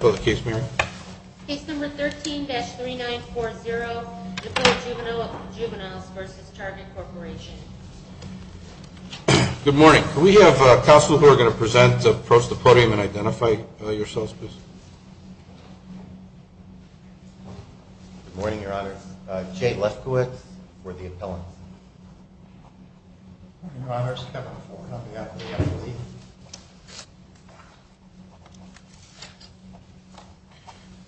Case number 13-3940 DuPont Juvenile v. Juvenile v. Target Corporation Good morning. Could we have counsel who are going to present approach the podium and identify yourselves, please? Good morning, Your Honor. I'm Jay Leskowitz. I'm with the appellant. Your Honor, September 4. I'm with the appellant.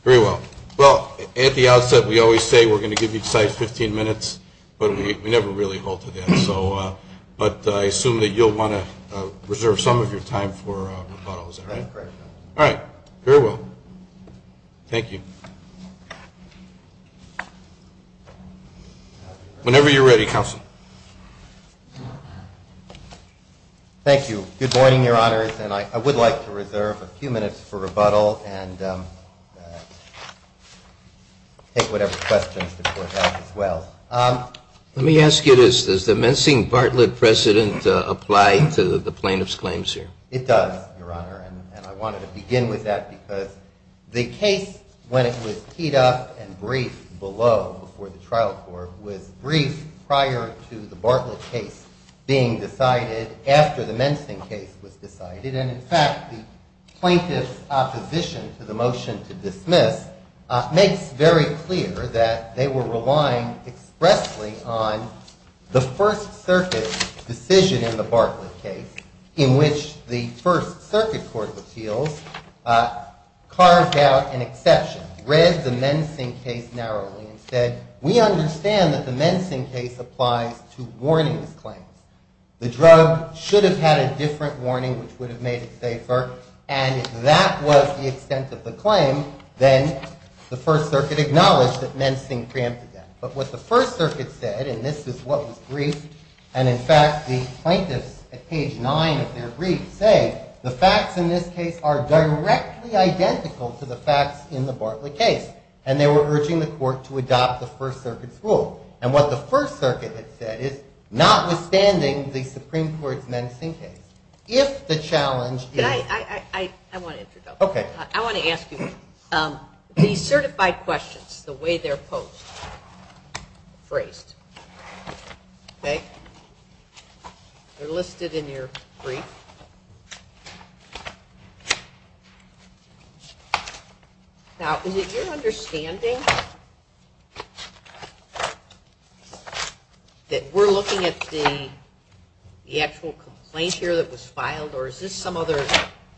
Very well. Well, at the outset, we always say we're going to give you a decisive 15 minutes, but we never really hold to that. But I assume that you'll want to preserve some of your time for referrals, right? That's correct, Your Honor. All right. Very well. Thank you. Whenever you're ready, counsel. Thank you. Good morning, Your Honor. And I would like to reserve a few minutes for rebuttal and take whatever questions before that as well. Let me ask you this. Does the Messing Bartlett precedent apply to the plaintiff's claims here? It does, Your Honor, and I wanted to begin with that because the case, when it was keyed up and briefed below before the trial court, was briefed prior to the Bartlett case being decided after the Messing case was decided. And, in fact, the plaintiff's opposition to the motion to dismiss makes very clear that they were relying expressly on the First Circuit decision in the Bartlett case in which the First Circuit Court of Appeals carved out an exception, read the Messing case narrowly, and said, we understand that the Messing case applies to warning claims. The drug should have had a different warning which would have made it safer, and if that was the extent of the claim, then the First Circuit acknowledged that Messing preempted that. But what the First Circuit said, and this is what was briefed, and, in fact, the plaintiffs, at page 9 of their brief, say the facts in this case are directly identical to the facts in the Bartlett case, and they were urging the court to adopt the First Circuit's rule. And what the First Circuit has said is, notwithstanding the Supreme Court's Messing case, if the challenge is… I want to ask you, the certified questions, the way they're posed, phrased, okay? They're listed in your brief. Now, is it your understanding that we're looking at the actual complaint here that was filed, or is this some other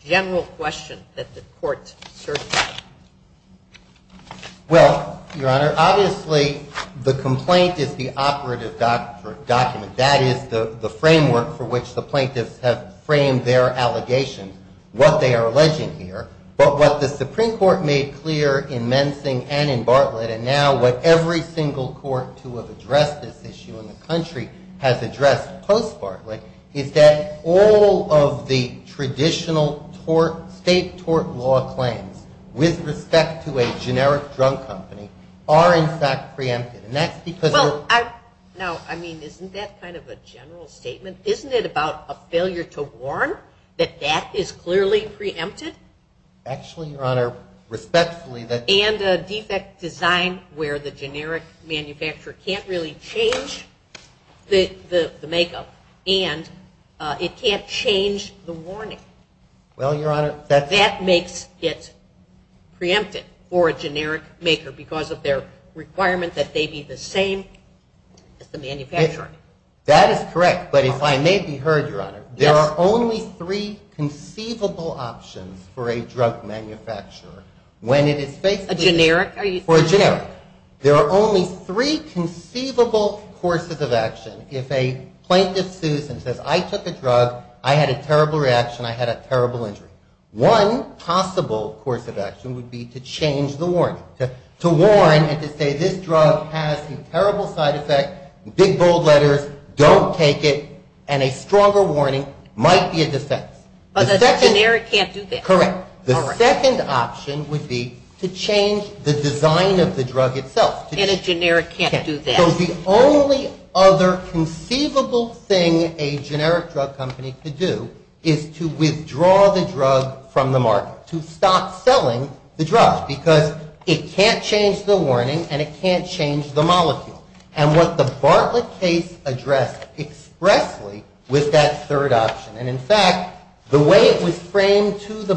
general question that the court's searching? Well, Your Honor, obviously, the complaint is the operative document. That is the framework for which the plaintiffs have framed their allegations, what they are alleging here. But what the Supreme Court made clear in Messing and in Bartlett, and now what every single court to have addressed this issue in the country has addressed post-Bartlett, is that all of the traditional state tort law claims with respect to a generic drug company are, in fact, preempted. Now, I mean, isn't that kind of a general statement? Isn't it about a failure to warn that that is clearly preempted? Actually, Your Honor, respectfully… And a defect design where the generic manufacturer can't really change the makeup, and it can't change the warning. Well, Your Honor… That makes it preempted for a generic maker because of their requirement that they be the same as the manufacturer. That is correct. But if I may be heard, Your Honor, there are only three conceivable options for a drug manufacturer. A generic? For a generic. There are only three conceivable courses of action if a plaintiff sues and says, I took a drug, I had a terrible reaction, I had a terrible injury. One possible course of action would be to change the warning. To warn and to say, this drug has some terrible side effects, big bold letters, don't take it, and a stronger warning might be a defect. But a generic can't do that. Correct. The second option would be to change the design of the drug itself. And a generic can't do that. So the only other conceivable thing a generic drug company could do is to withdraw the drug from the market, to stop selling the drug, because it can't change the warning and it can't change the molecule. And what the Bartlett case addressed expressly with that third option, and in fact, the way it was framed to the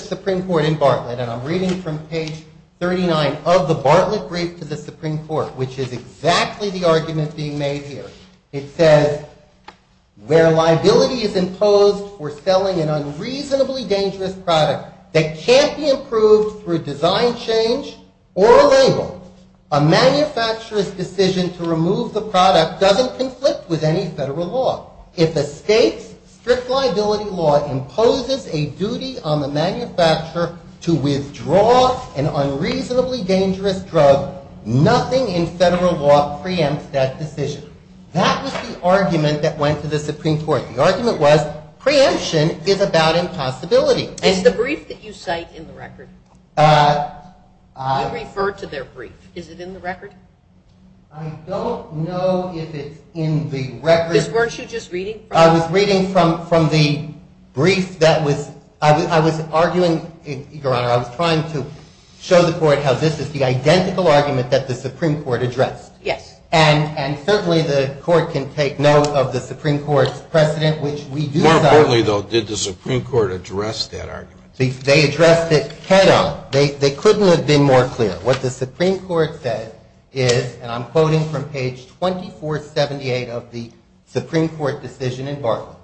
Supreme Court in Bartlett, and I'm reading from page 39 of the Bartlett brief to the Supreme Court, which is exactly the argument being made here. It says, where liability is imposed for selling an unreasonably dangerous product that can't be improved through design change or a label, a manufacturer's decision to remove the product doesn't conflict with any federal law. If a state strict liability law imposes a duty on the manufacturer to withdraw an unreasonably dangerous drug, nothing in federal law preempts that decision. That was the argument that went to the Supreme Court. The argument was, preemption is about impossibility. Is the brief that you cite in the record? You referred to their brief. Is it in the record? I don't know if it's in the record. Weren't you just reading from it? I was reading from the brief that was – I was arguing, Your Honor, I was trying to show the Court how this is the identical argument that the Supreme Court addressed. Yes. And certainly the Court can take note of the Supreme Court's precedent, which we do not – How clearly, though, did the Supreme Court address that argument? They addressed it – No. They couldn't have been more clear. What the Supreme Court said is, and I'm quoting from page 2478 of the Supreme Court decision in Barclays,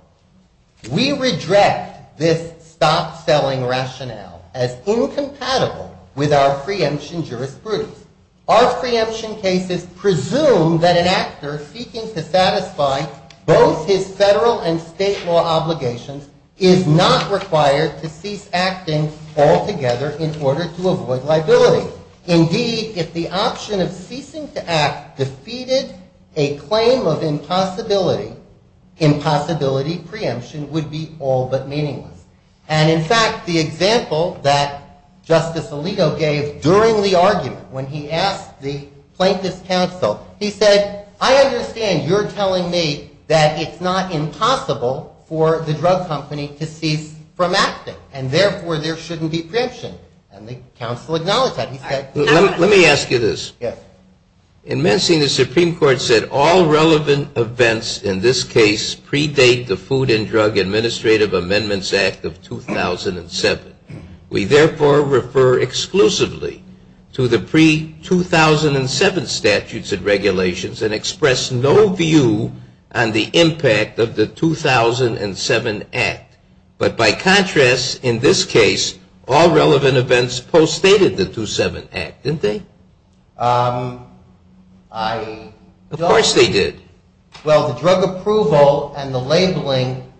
We redress this stop-selling rationale as incompatible with our preemption jurisprudence. Our preemption cases presume that an actor seeking to satisfy both his federal and state law obligations is not required to cease acting altogether in order to avoid liability. Indeed, if the option of ceasing to act defeated a claim of impossibility, impossibility preemption would be all but meaningless. And in fact, the example that Justice Alito gave during the argument, when he asked the plaintiff's counsel, he said, I understand you're telling me that it's not impossible for the drug company to cease from acting, and therefore there shouldn't be preemption. And the counsel acknowledged that. Let me ask you this. In Mensing, the Supreme Court said all relevant events in this case predate the Food and Drug Administrative Amendments Act of 2007. We therefore refer exclusively to the pre-2007 statutes and regulations and express no view on the impact of the 2007 Act. But by contrast, in this case, all relevant events postdated the 2007 Act, didn't they? Of course they did. Well, the drug approval and the labeling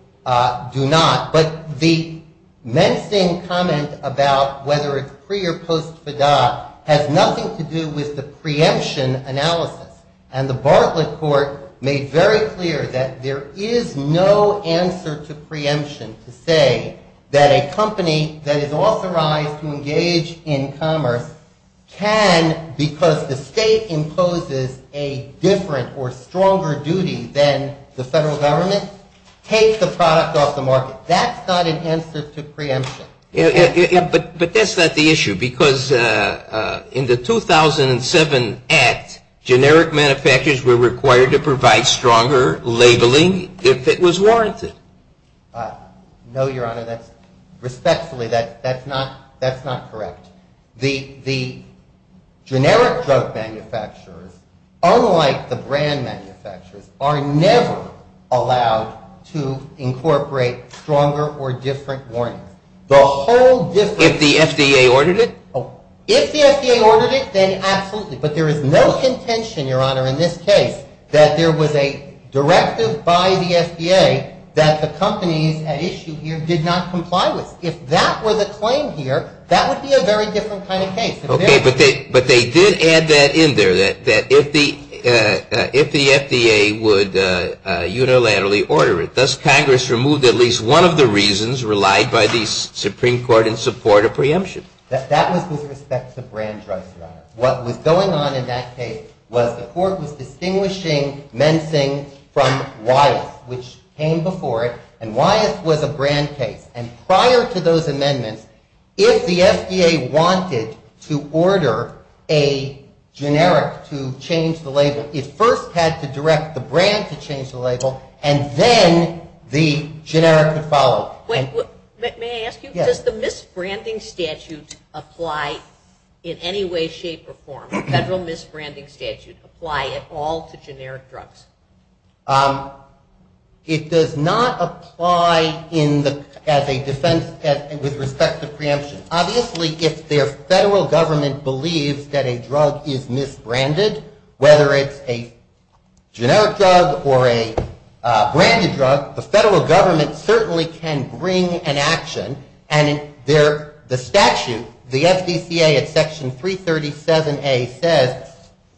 do not. But the Mensing comment about whether it's pre- or post-fida has nothing to do with the preemption analysis. And the Bartlett Court made very clear that there is no answer to preemption to say that a company that is authorized to engage in commerce can, because the state imposes a different or stronger duty than the federal government, take the product off the market. That's not an answer to preemption. But that's not the issue, because in the 2007 Act, generic manufacturers were required to provide stronger labeling if it was warranted. No, Your Honor, respectfully, that's not correct. The generic drug manufacturers, unlike the brand manufacturers, are never allowed to incorporate stronger or different warnings. If the FDA ordered it? If the FDA ordered it, then absolutely. But there is no contention, Your Honor, in this case, that there was a directive by the FDA that the companies at issue here did not comply with. So if that was a claim here, that would be a very different kind of case. Okay, but they did add that in there, that if the FDA would unilaterally order it, does Congress remove at least one of the reasons relied by the Supreme Court in support of preemption? That was with respect to brand drugs, Your Honor. What was going on in that case was the Court was distinguishing Mensing from Wyeth, which came before it, and Wyeth was a brand case. And prior to those amendments, if the FDA wanted to order a generic to change the label, it first had to direct the brand to change the label, and then the generic would follow. May I ask you, does the misbranding statute apply in any way, shape, or form? Federal misbranding statutes apply at all to generic drugs? It does not apply as a defense with respect to preemption. Obviously, if their federal government believes that a drug is misbranded, whether it's a generic drug or a branded drug, the federal government certainly can bring an action. And the statute, the FDCA at Section 337A says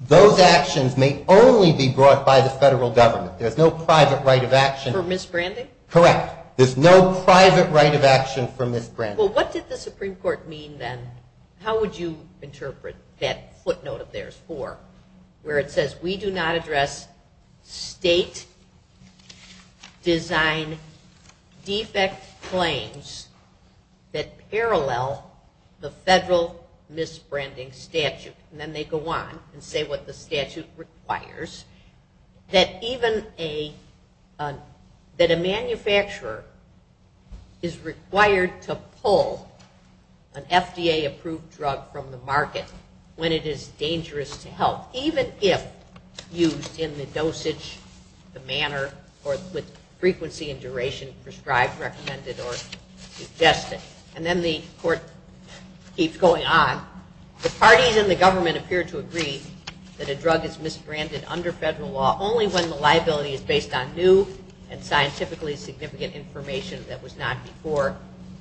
those actions may only be brought by the federal government. There's no private right of action. For misbranding? Correct. There's no private right of action for misbranding. Well, what did the Supreme Court mean then? How would you interpret that footnote of theirs for, where it says, we do not address state design defect claims that parallel the federal misbranding statute. And then they go on and say what the statute requires. It says that even a, that a manufacturer is required to pull an FDA-approved drug from the market when it is dangerous to health, even if used in the dosage, the manner, or the frequency and duration prescribed, recommended, or suggested. And then the court keeps going on. The parties in the government appear to agree that a drug is misbranded under federal law only when the liability is based on new and scientifically significant information that was not before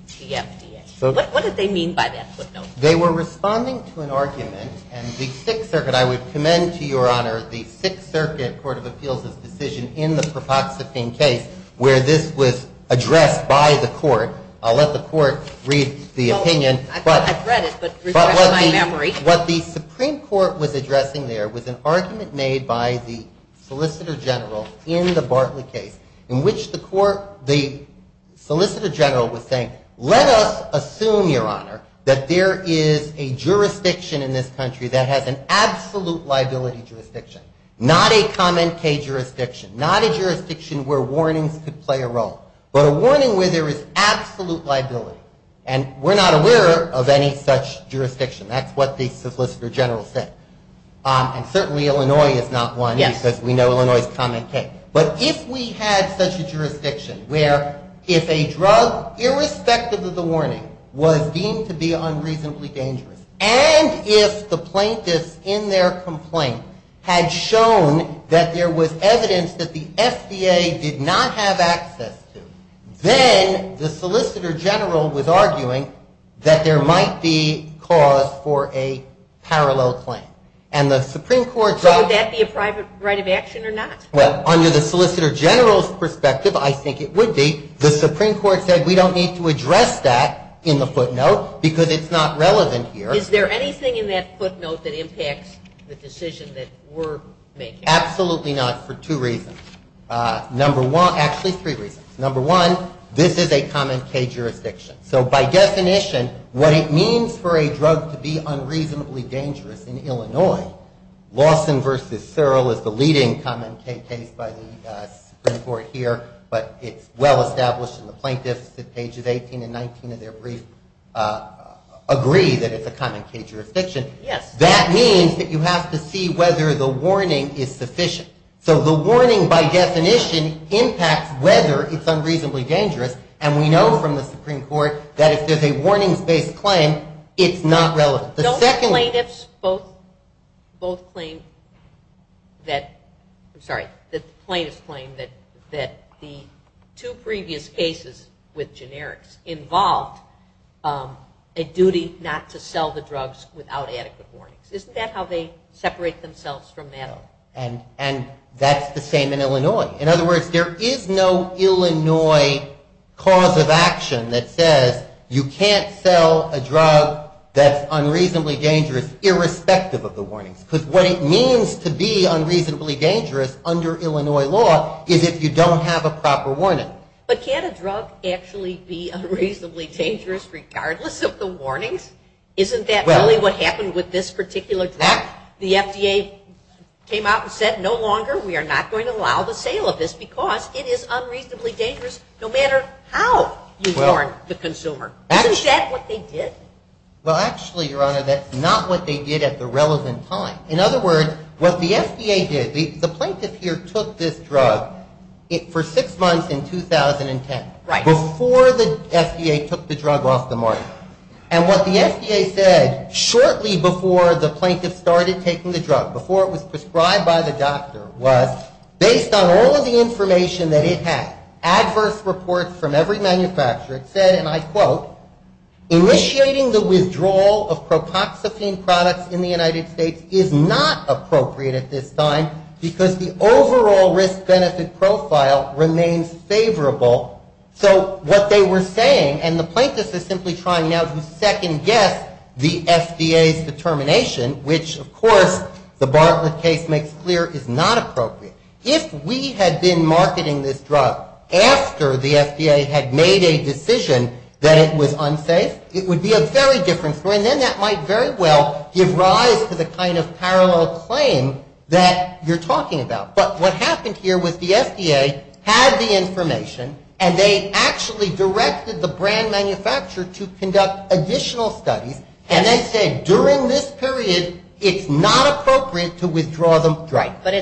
PFDA. What did they mean by that footnote? They were responding to an argument, and the Sixth Circuit, I would commend to Your Honor, the Sixth Circuit Court of Appeals' decision in the propoxetine case where this was addressed by the court. I'll let the court read the opinion. But what the Supreme Court was addressing there was an argument made by the Solicitor General in the Bartlett case in which the court, the Solicitor General was saying, let us assume, Your Honor, that there is a jurisdiction in this country that has an absolute liability jurisdiction, not a common case jurisdiction, not a jurisdiction where warnings could play a role, but a warning where there is absolute liability. And we're not aware of any such jurisdiction. That's what the Solicitor General said. And certainly Illinois is not one because we know Illinois is a common case. But if we had such a jurisdiction where if a drug, irrespective of the warning, was deemed to be unreasonably dangerous, and if the plaintiff in their complaint had shown that there was evidence that the FDA did not have access to, then the Solicitor General was arguing that there might be cause for a parallel claim. And the Supreme Court said... Would that be a private right of action or not? Well, under the Solicitor General's perspective, I think it would be. The Supreme Court said we don't need to address that in the footnote because it's not relevant here. Is there anything in that footnote that impacts the decision that we're making? Absolutely not for two reasons. Actually, three reasons. Number one, this is a common case jurisdiction. So by definition, what it means for a drug to be unreasonably dangerous in Illinois, Lawson v. Searle is the leading common case case by the Supreme Court here, but it's well established in the plaintiffs at pages 18 and 19 of their brief, agree that it's a common case jurisdiction. That means that you have to see whether the warning is sufficient. So the warning, by definition, impacts whether it's unreasonably dangerous, and we know from the Supreme Court that if there's a warning-based claim, it's not relevant. Don't the plaintiffs both claim that, sorry, the plaintiffs claim that the two previous cases with generics involved a duty not to sell the drugs without adequate warning. Isn't that how they separate themselves from that? And that's the same in Illinois. In other words, there is no Illinois cause of action that says you can't sell a drug that's unreasonably dangerous irrespective of the warning. So what it means to be unreasonably dangerous under Illinois law is if you don't have a proper warning. But can a drug actually be unreasonably dangerous regardless of the warning? Isn't that really what happened with this particular drug? The FDA came out and said no longer, we are not going to allow the sale of this because it is unreasonably dangerous no matter how you warn the consumer. Isn't that what they did? Well, actually, Your Honor, that's not what they did at the relevant time. In other words, what the FDA did, the plaintiffs here took this drug for six months in 2010, before the FDA took the drug off the market. And what the FDA said shortly before the plaintiffs started taking the drug, before it was prescribed by the doctor, was based on all of the information that it had, adverse reports from every manufacturer said, and I quote, initiating the withdrawal of protoxepine products in the United States is not appropriate at this time because the overall risk-benefit profile remains favorable. So what they were saying, and the plaintiffs are simply trying now to second-guess the FDA's determination, which, of course, the Bartlett case makes clear is not appropriate. If we had been marketing this drug after the FDA had made a decision that it was unsafe, it would be a very different story. And then that might very well give rise to the kind of parallel claims that you're talking about. But what happened here was the FDA had the information, and they actually directed the brand manufacturer to conduct additional studies, and then said, during this period, it's not appropriate to withdraw the drug. Right, but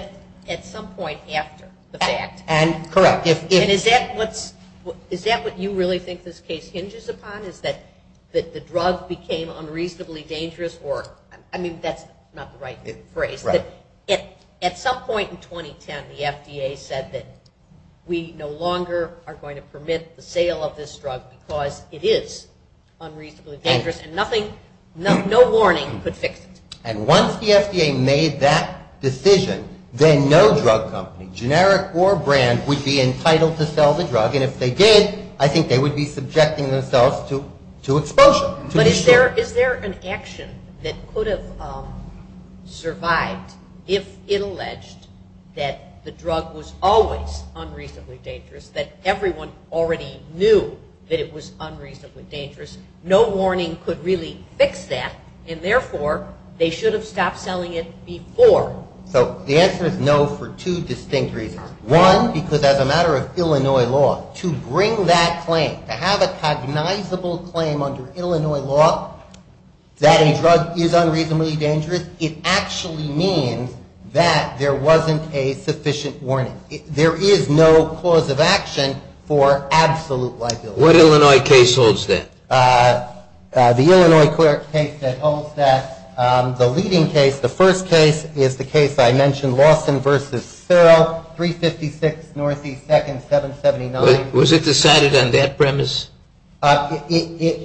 at some point after the fact. And correct. And is that what you really think this case hinges upon, is that the drug became unreasonably dangerous? I mean, that's not the right phrase. At some point in 2010, the FDA said that we no longer are going to permit the sale of this drug because it is unreasonably dangerous, and no warning could fix it. And once the FDA made that decision, then no drug company, generic or brand, would be entitled to sell the drug. And if they did, I think they would be subjecting themselves to exposure. But is there an action that could have survived if it alleged that the drug was always unreasonably dangerous, that everyone already knew that it was unreasonably dangerous, no warning could really fix that, and therefore they should have stopped selling it before? So the answer is no for two distinct reasons. One, because as a matter of Illinois law, to bring that claim, to have a cognizable claim under Illinois law that a drug is unreasonably dangerous, it actually means that there wasn't a sufficient warning. There is no cause of action for absolute liability. What Illinois case holds that? The Illinois court case that holds that. The leading case, the first case, is the case I mentioned, Lawson v. Serow, 356 NE 2nd 779. Was it decided on that premise? Well, yes,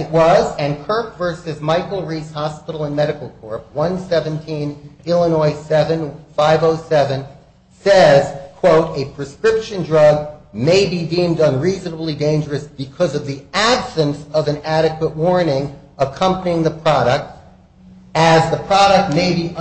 it was. And Kirk v. Michael Reed Hospital and Medical Court, 117 Illinois 7507, says, quote, a prescription drug may be deemed unreasonably dangerous because of the absence of an adequate warning accompanying the product, as the product may be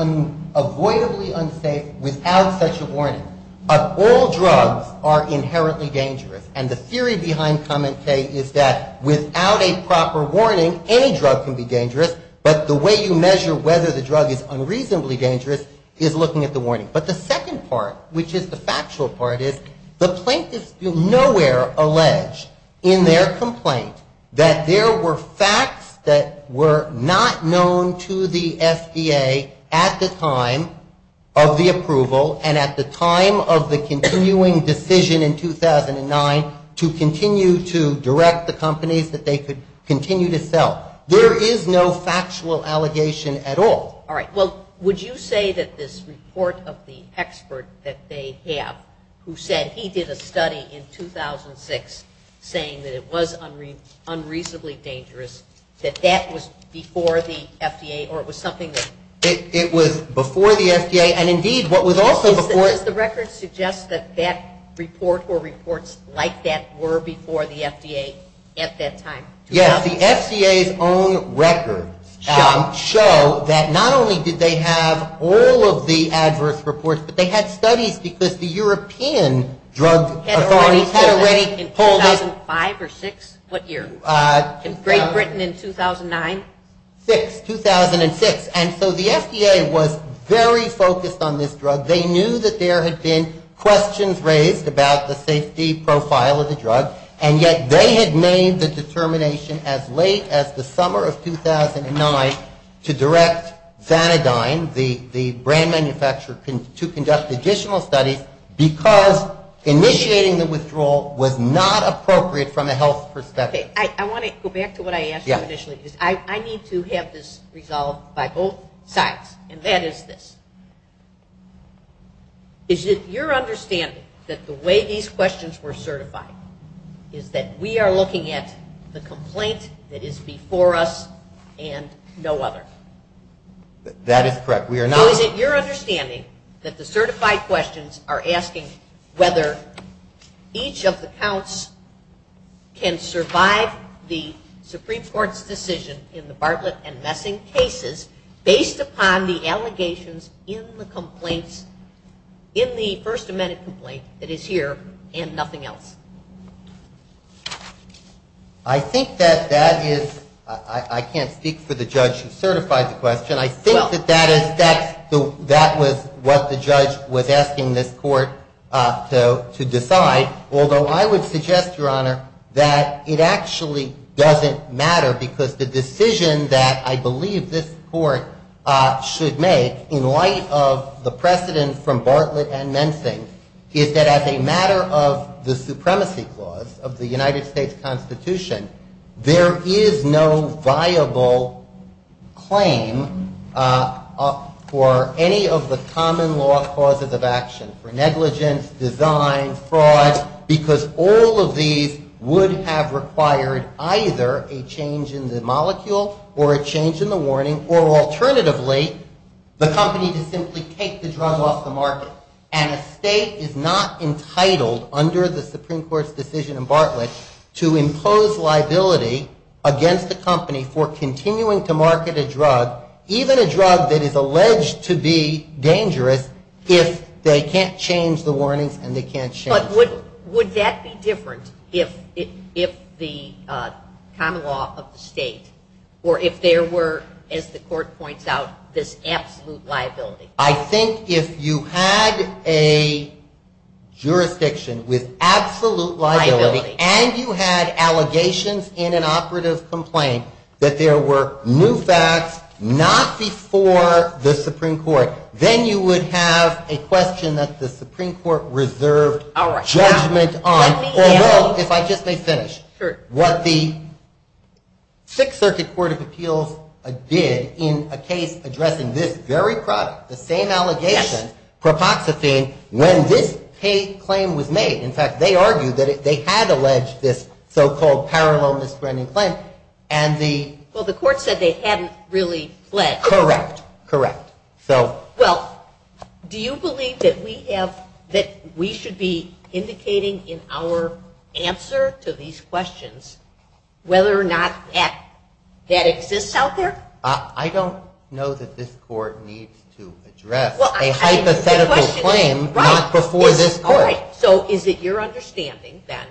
avoidably unsafe without such a warning. But all drugs are inherently dangerous. And the theory behind comments say is that without a proper warning, any drug can be dangerous, but the way you measure whether the drug is unreasonably dangerous is looking at the warning. But the second part, which is the factual part, is the plaintiffs nowhere allege in their complaint that there were facts that were not known to the FDA at the time of the approval and at the time of the continuing decision in 2009 to continue to direct the companies that they could continue to sell. There is no factual allegation at all. All right, well, would you say that this report of the expert that they have who said he did a study in 2006 saying that it was unreasonably dangerous, that that was before the FDA, or it was something that- It was before the FDA, and indeed, what was also before- Does the record suggest that that report or reports like that were before the FDA at that time? Yes, the FDA's own records show that not only did they have all of the adverse reports, but they had studies because the European Drug Authority- In 2005 or 2006? What year? In Great Britain in 2009? 2006. And so the FDA was very focused on this drug. They knew that there had been questions raised about the safety profile of the drug, and yet they had made the determination as late as the summer of 2009 to direct Xanadine, the brand manufacturer, to conduct additional studies because initiating the withdrawal was not appropriate from a health perspective. Okay, I want to go back to what I asked you initially. I need to have this resolved by both sides, and that is this. Is it your understanding that the way these questions were certified is that we are looking at the complaint that is before us and no other? That is correct. We are not- So is it your understanding that the certified questions are asking whether each of the counts can survive the Supreme Court's decision in the Bartlett and Messing cases based upon the allegations in the complaint, in the First Amendment complaint, that is here and nothing else? I think that that is- I can't speak for the judge who certified the question. I think that that is- that was what the judge was asking this court to decide, although I would suggest, Your Honor, that it actually doesn't matter because the decision that I believe this court should make, in light of the precedent from Bartlett and Messing, is that as a matter of the supremacy clause of the United States Constitution, there is no viable claim for any of the common law clauses of action, for negligence, design, fraud, because all of these would have required either a change in the molecule or a change in the warning or alternatively, the company can simply take the drug off the market and a state is not entitled, under the Supreme Court's decision in Bartlett, to impose liability against the company for continuing to market a drug, even a drug that is alleged to be dangerous, if they can't change the warnings and they can't change- But would that be different if the common law of the state, or if there were, as the court points out, this absolute liability? I think if you had a jurisdiction with absolute liability and you had allegations in an operative complaint that there were new facts not before the Supreme Court, then you would have a question that the Supreme Court reserved judgment on, or else, if I just may finish, what the Sixth Circuit Court of Appeals did in a case addressing this very product, the same allegation, propositing when this case claim was made, in fact, they argued that they had alleged this so-called paranormal misbranding claim, and the- Well, the court said they hadn't really pledged. Correct. Correct. So- Well, do you believe that we have- that we should be indicating in our answer to these questions whether or not that exists out there? I don't know that this court needs to address a hypothetical claim not before this court. So is it your understanding, then,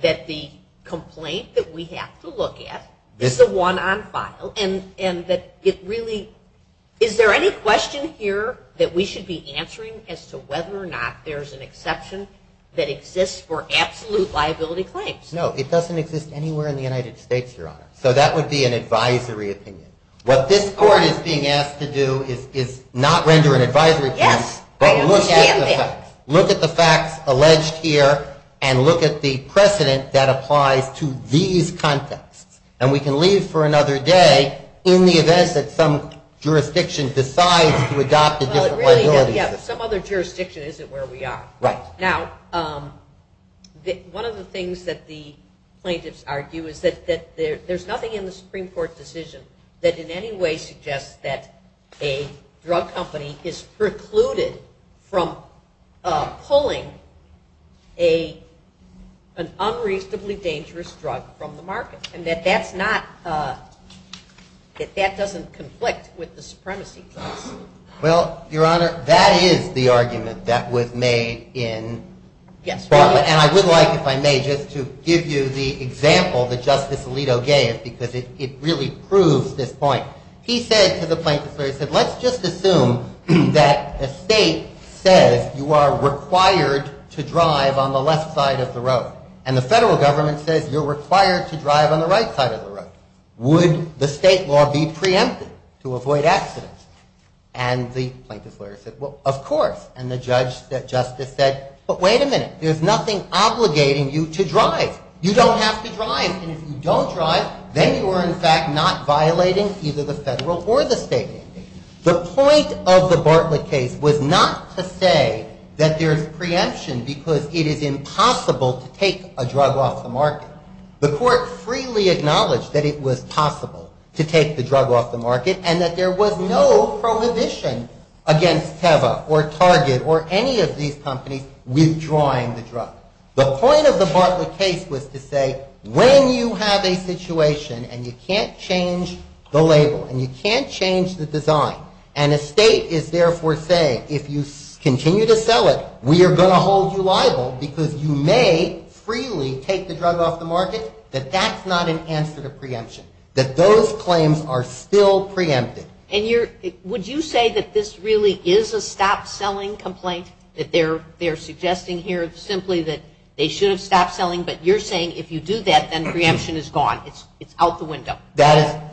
that the complaint that we have to look at is the one on file, and that it really- is there any question here that we should be answering as to whether or not there's an exception that exists for absolute liability claims? No, it doesn't exist anywhere in the United States, Your Honor. So that would be an advisory opinion. What this court is being asked to do is not render an advisory opinion, but look at the facts alleged here, and look at the precedent that applies to these concepts. And we can leave for another day in the event that some jurisdiction decides to adopt a different liability claim. Yeah, but some other jurisdiction isn't where we are. Right. Now, one of the things that the plaintiffs argue is that there's nothing in the Supreme Court's decision that in any way suggests that a drug company is precluded from pulling an unreasonably dangerous drug from the market. And that that's not- that that doesn't conflict with the supremacy case. Well, Your Honor, that is the argument that was made in- Yes, Your Honor. And I would like, if I may, just to give you the example that Justice Alito gave, because it really proves this point. He said to the plaintiffs, he said, let's just assume that a state says you are required to drive on the left side of the road. And the federal government said, you're required to drive on the right side of the road. Would the state law be preempted to avoid accidents? And the plaintiff's lawyer said, well, of course. And the judge, the justice said, but wait a minute. There's nothing obligating you to drive. You don't have to drive. And if you don't drive, then you are, in fact, not violating either the federal or the state legislation. The point of the Bartlett case was not to say that there's preemption because it is impossible to take a drug off the market. The court freely acknowledged that it was possible to take the drug off the market and that there was no prohibition against Teva or Target or any of these companies withdrawing the drug. The point of the Bartlett case was to say, when you have a situation and you can't change the label and you can't change the design, and a state is therefore saying, if you continue to sell it, we are going to hold you liable because you may freely take the drug off the market, that that's not an answer to preemption, that those claims are still preempted. And would you say that this really is a stop-selling complaint, that they're suggesting here simply that they should have stopped selling, but you're saying if you do that, then preemption is gone, it's out the window?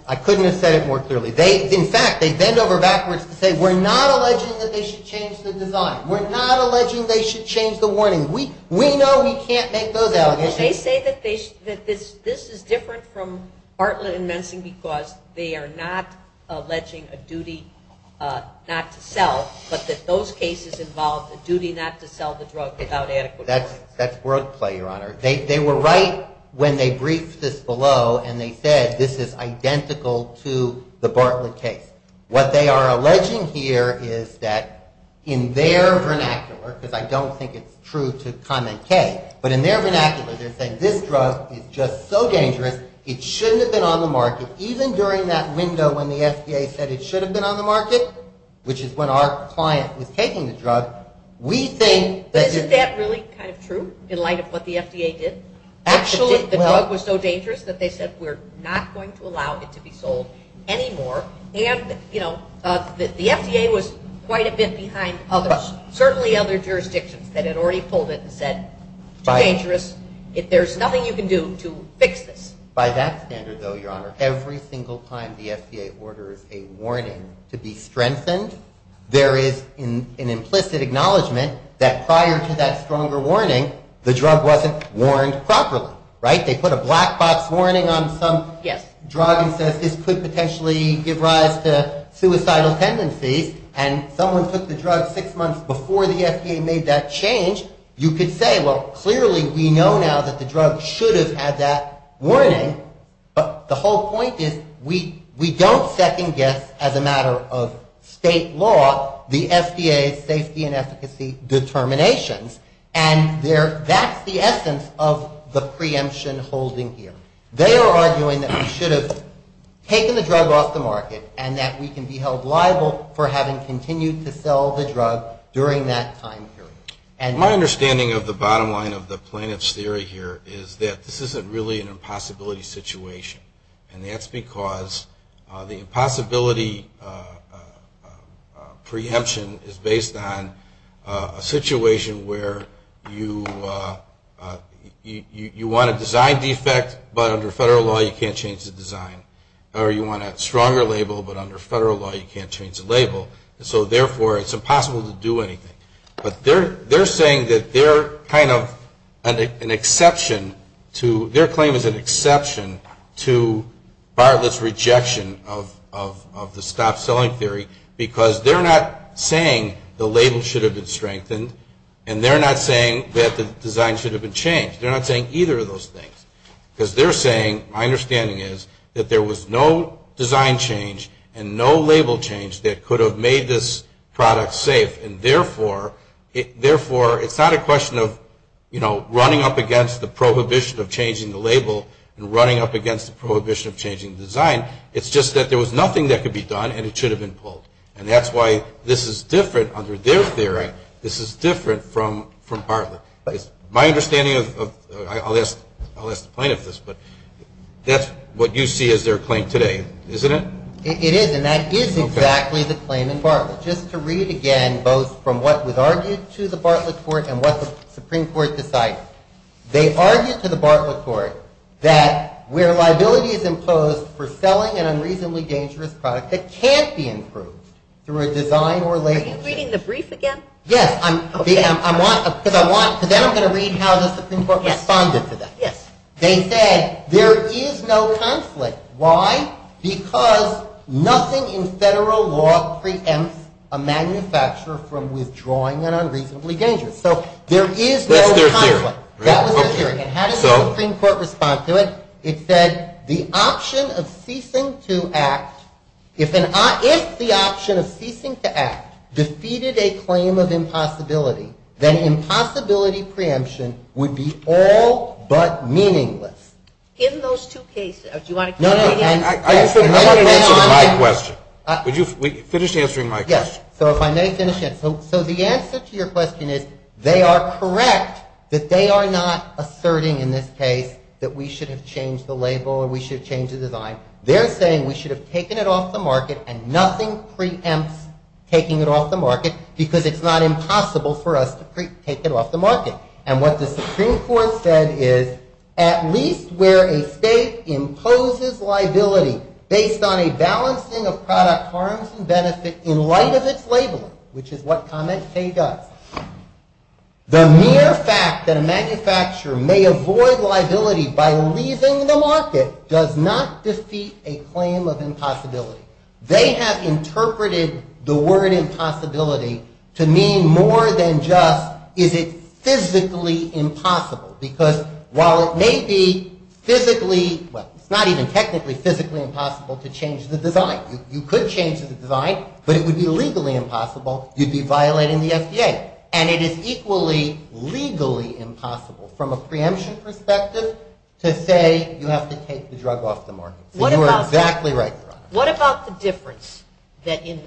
I couldn't have said it more clearly. In fact, they bend over backwards to say, we're not alleging that they should change the design. We're not alleging they should change the warning. We know we can't let go of that. They say that this is different from Bartlett and Mensing because they are not alleging a duty not to sell, but that those cases involve a duty not to sell the drug without asking for it. That's correct, your Honor. They were right when they briefed this below and they said this is identical to the Bartlett case. What they are alleging here is that in their vernacular, because I don't think it's true to commentate, but in their vernacular they're saying this drug is just so dangerous, it shouldn't have been on the market, even during that window when the FDA said it should have been on the market, which is when our client was taking the drug, we think that this... Is that really kind of true, in light of what the FDA did? Actually, the drug was so dangerous that they said we're not going to allow it to be sold anymore. The FDA was quite a bit behind others, certainly other jurisdictions that had already pulled it and said, too dangerous, there's nothing you can do to fix this. By that standard though, your Honor, every single time the FDA orders a warning to be strengthened, there is an implicit acknowledgement that prior to that stronger warning, the drug wasn't warned properly. They put a black box warning on some drug and said this could potentially give rise to suicidal tendencies, and someone took the drug six months before the FDA made that change, you could say, well, clearly we know now that the drug should have had that warning, but the whole point is we don't second guess, as a matter of state law, the FDA's safety and efficacy determinations, and that's the essence of the preemption holding here. They are arguing that we should have taken the drug off the market and that we can be held liable for having continued to sell the drug during that time period. My understanding of the bottom line of the plaintiff's theory here is that this isn't really an impossibility situation, and that's because the impossibility preemption is based on a situation where you want to design the effect, but under federal law you can't change the design, or you want a stronger label, but under federal law you can't change the label, so therefore it's impossible to do anything. But they're saying that they're kind of an exception to, their claim is an exception to bar this rejection of the stop selling theory, because they're not saying the label should have been strengthened, and they're not saying that the design should have been changed. They're not saying either of those things, because they're saying, my understanding is that there was no design change and no label change that could have made this product safe, and therefore it's not a question of running up against the prohibition of changing the label and running up against the prohibition of changing the design, it's just that there was nothing that could be done and it should have been pulled. And that's why this is different, under their theory, this is different from Hartleff. My understanding of, I'll ask the plaintiff this, but that's what you see as their claim today, isn't it? It is, and that is exactly the claim in Bartlett. Just to read again, both from what was argued to the Bartlett court, and what the Supreme Court decides. They argued to the Bartlett court that where liability is imposed for selling an unreasonably dangerous product that can't be improved through a design or label change. Are you reading the brief again? Yes. I'm going to read how the Supreme Court responded to that. Yes. They said there is no conflict. Why? Because nothing in federal law preempts a manufacturer from withdrawing an unreasonably dangerous. So there is no conflict. That was their theory. That was their theory. It had a Supreme Court response to it. It said the option of ceasing to act, if the option of ceasing to act, preceded a claim of impossibility, then impossibility preemption would be all but meaningless. Give those two cases. Do you want to continue? No. I just want to finish my question. Would you finish answering my question? Yes. So if I may finish it. So the answer to your question is they are correct that they are not asserting in this case that we should have changed the label or we should have changed the design. They're saying we should have taken it off the market and nothing preempts taking it off the market because it's not impossible for us to take it off the market. And what the Supreme Court said is at least where a state imposes liability based on a balancing of product harms and benefits in light of its labeling, which is what comment K does, the mere fact that a manufacturer may avoid liability by leaving the market does not defeat a claim of impossibility. They have interpreted the word impossibility to mean more than just is it physically impossible because while it may be physically, well, it's not even technically physically impossible to change the design. You could change the design, but it would be legally impossible. You'd be violating the FDA. And it is equally legally impossible from a preemption perspective to say you have to take the drug off the market. You are exactly right. What about the difference that in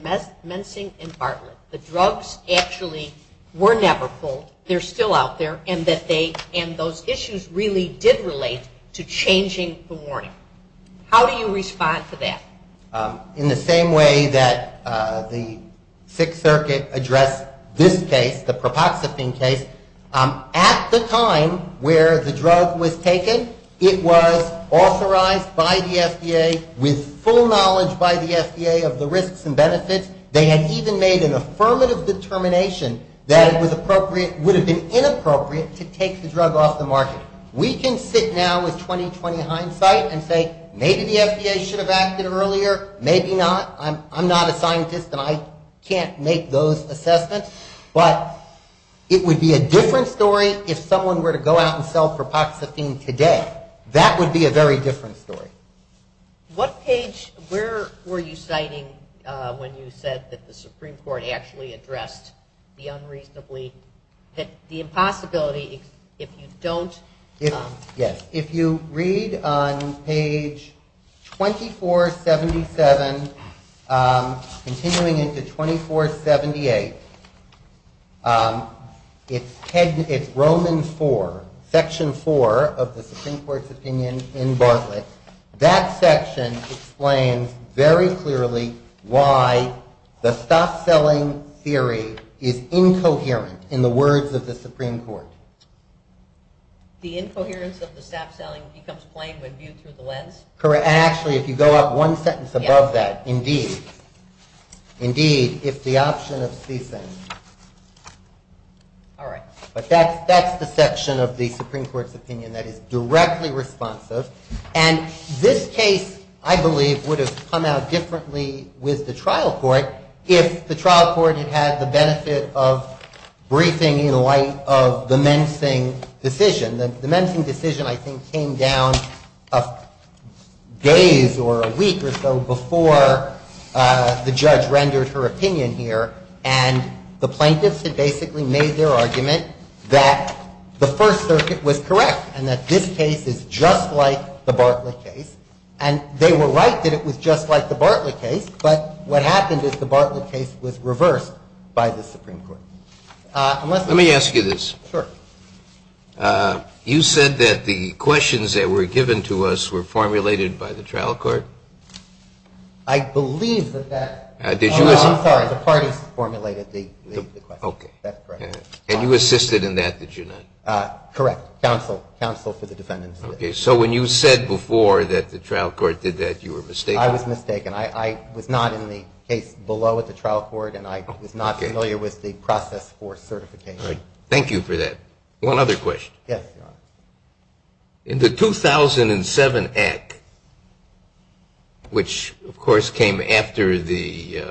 mensing and partner, the drugs actually were never sold, they're still out there, and those issues really did relate to changing the warning? How do you respond to that? In the same way that the Sixth Circuit addressed this case, the propoxy case, at the time where the drug was taken, it was authorized by the FDA with full knowledge by the FDA of the risks and benefits. They had even made an affirmative determination that it would have been inappropriate to take the drug off the market. We can sit down with 20-20 hindsight and say maybe the FDA should have acted earlier, maybe not. I'm not a scientist and I can't make those assessments, but it would be a different story if someone were to go out and sell propoxy today. That would be a very different story. What page, where were you citing when you said that the Supreme Court actually addressed the unreasonably, the impossibility if you don't? Yes, if you read on page 2477, continuing into 2478, it's Romans 4, section 4 of the Supreme Court's opinion in Bartlett. That section explains very clearly why the stop-selling theory is incoherent in the words of the Supreme Court. The incoherence of the stop-selling becomes plain when viewed through the lens? Correct. And actually, if you go up one sentence above that, indeed, indeed, it's the option of ceasing. All right. But that's the section of the Supreme Court's opinion that is directly responsive. And this case, I believe, would have come out differently with the trial court if the trial court had had the benefit of briefing in the light of the Mensing decision. The Mensing decision, I think, came down days or a week or so before the judge rendered her opinion here, and the plaintiffs had basically made their argument that the First Circuit was correct and that this case is just like the Bartlett case. And they were right that it was just like the Bartlett case, but what happened is the Bartlett case was reversed by the Supreme Court. Let me ask you this. Sure. You said that the questions that were given to us were formulated by the trial court? I believe that that... I'm sorry. The parties formulated the questions. Okay. That's correct. And you assisted in that, did you not? Correct. Counsel. Counsel for the defendants. Okay. So when you said before that the trial court did that, you were mistaken? I was mistaken. I was not in the case below at the trial court, and I was not familiar with the process for certification. Thank you for that. One other question. Yes, Your Honor. In the 2007 Act, which, of course, came after the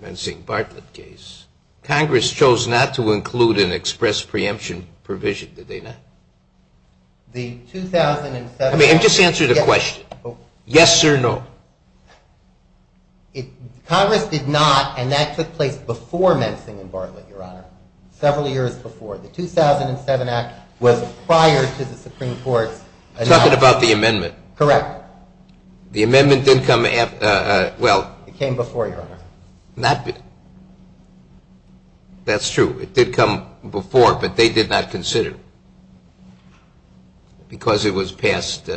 Mensing-Bartlett case, Congress chose not to include an express preemption provision, did they not? The 2007 Act... Let me just answer the question. Yes or no? Congress did not, and that took place before Mensing-Bartlett, Your Honor, several years before. The 2007 Act was prior to the Supreme Court. Something about the amendment. Correct. The amendment didn't come after... It came before, Your Honor. That's true. It did come before, but they did not consider it, because it was passed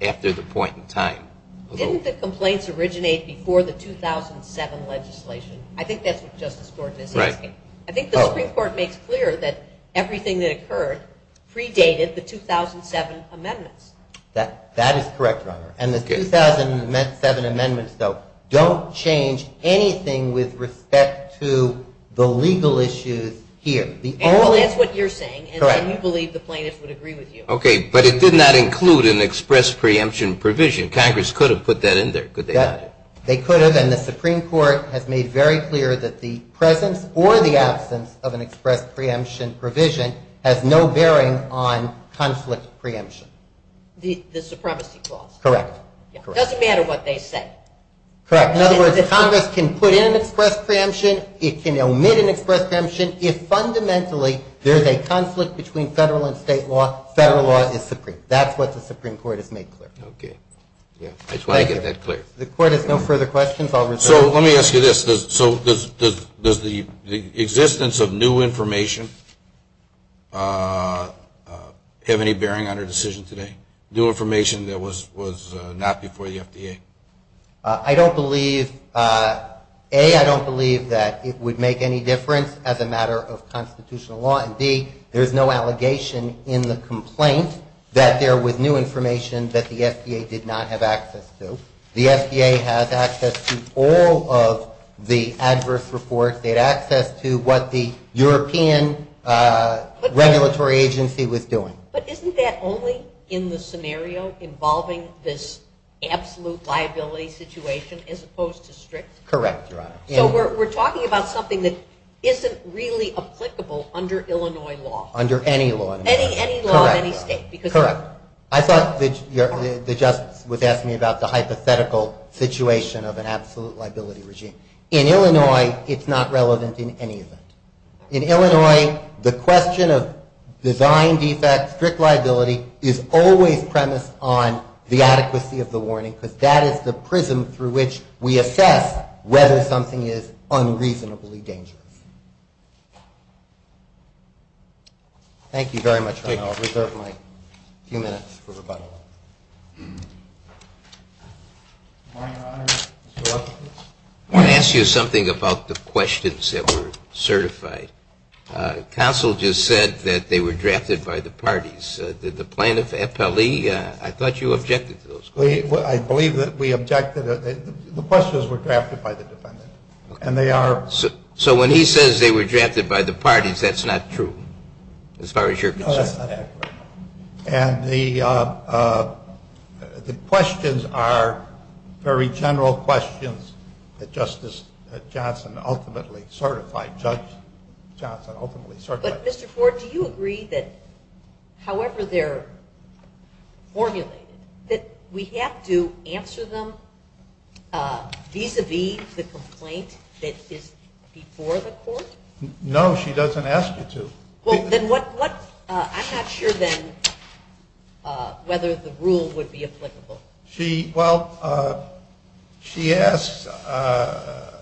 after the point in time. Didn't the complaints originate before the 2007 legislation? I think that's what Justice Gordon is asking. Right. I think the Supreme Court makes clear that everything that occurred predated the 2007 amendments. That is correct, Your Honor. And the 2007 amendments, though, don't change anything with respect to the legal issues here. That's what you're saying, and I do believe the plaintiffs would agree with you. Okay, but it did not include an express preemption provision. Congress could have put that in there, could they not? Yes, they could have, and the Supreme Court has made very clear that the presence or the absence of an express preemption provision has no bearing on conflict preemption. The supremacy clause. Correct. It doesn't matter what they say. Correct. In other words, Congress can put in an express preemption, it can omit an express preemption, if fundamentally there's a conflict between federal and state law, federal law is supreme. That's what the Supreme Court has made clear. Okay. I just want to get that clear. The Court has no further questions. So let me ask you this. So does the existence of new information have any bearing on your decision today, new information that was not before the FDA? I don't believe, A, I don't believe that it would make any difference as a matter of constitutional law, and, B, there's no allegation in the complaint that there was new information that the FDA did not have access to. The FDA has access to all of the adverse reports. They had access to what the European regulatory agency was doing. But isn't that only in the scenario involving this absolute liability situation as opposed to strict? Correct, Your Honor. So we're talking about something that isn't really applicable under Illinois law. Under any law. Any law in any state. Correct. Your Honor, I thought the judge was asking me about the hypothetical situation of an absolute liability regime. In Illinois, it's not relevant in any event. In Illinois, the question of design feedback, strict liability, is always premised on the adequacy of the warning, because that is the prism through which we assess whether something is unreasonably dangerous. Thank you very much, Your Honor. I'll reserve my few minutes for rebuttal. Your Honor, I'm going to ask you something about the questions that were certified. Counsel just said that they were drafted by the parties. Did the plaintiff, FLE, I thought you objected to those questions. I believe that we objected. The questions were drafted by the defendants. So when he says they were drafted by the parties, that's not true as far as you're concerned. And the questions are very general questions that Justice Johnson ultimately certified. But, Mr. Ford, do you agree that, however they're formulated, that we have to answer them vis-à-vis the complaint that is before the court? No, she doesn't ask you to. Well, then what's, I'm not sure then whether the rule would be applicable. She, well, she asks a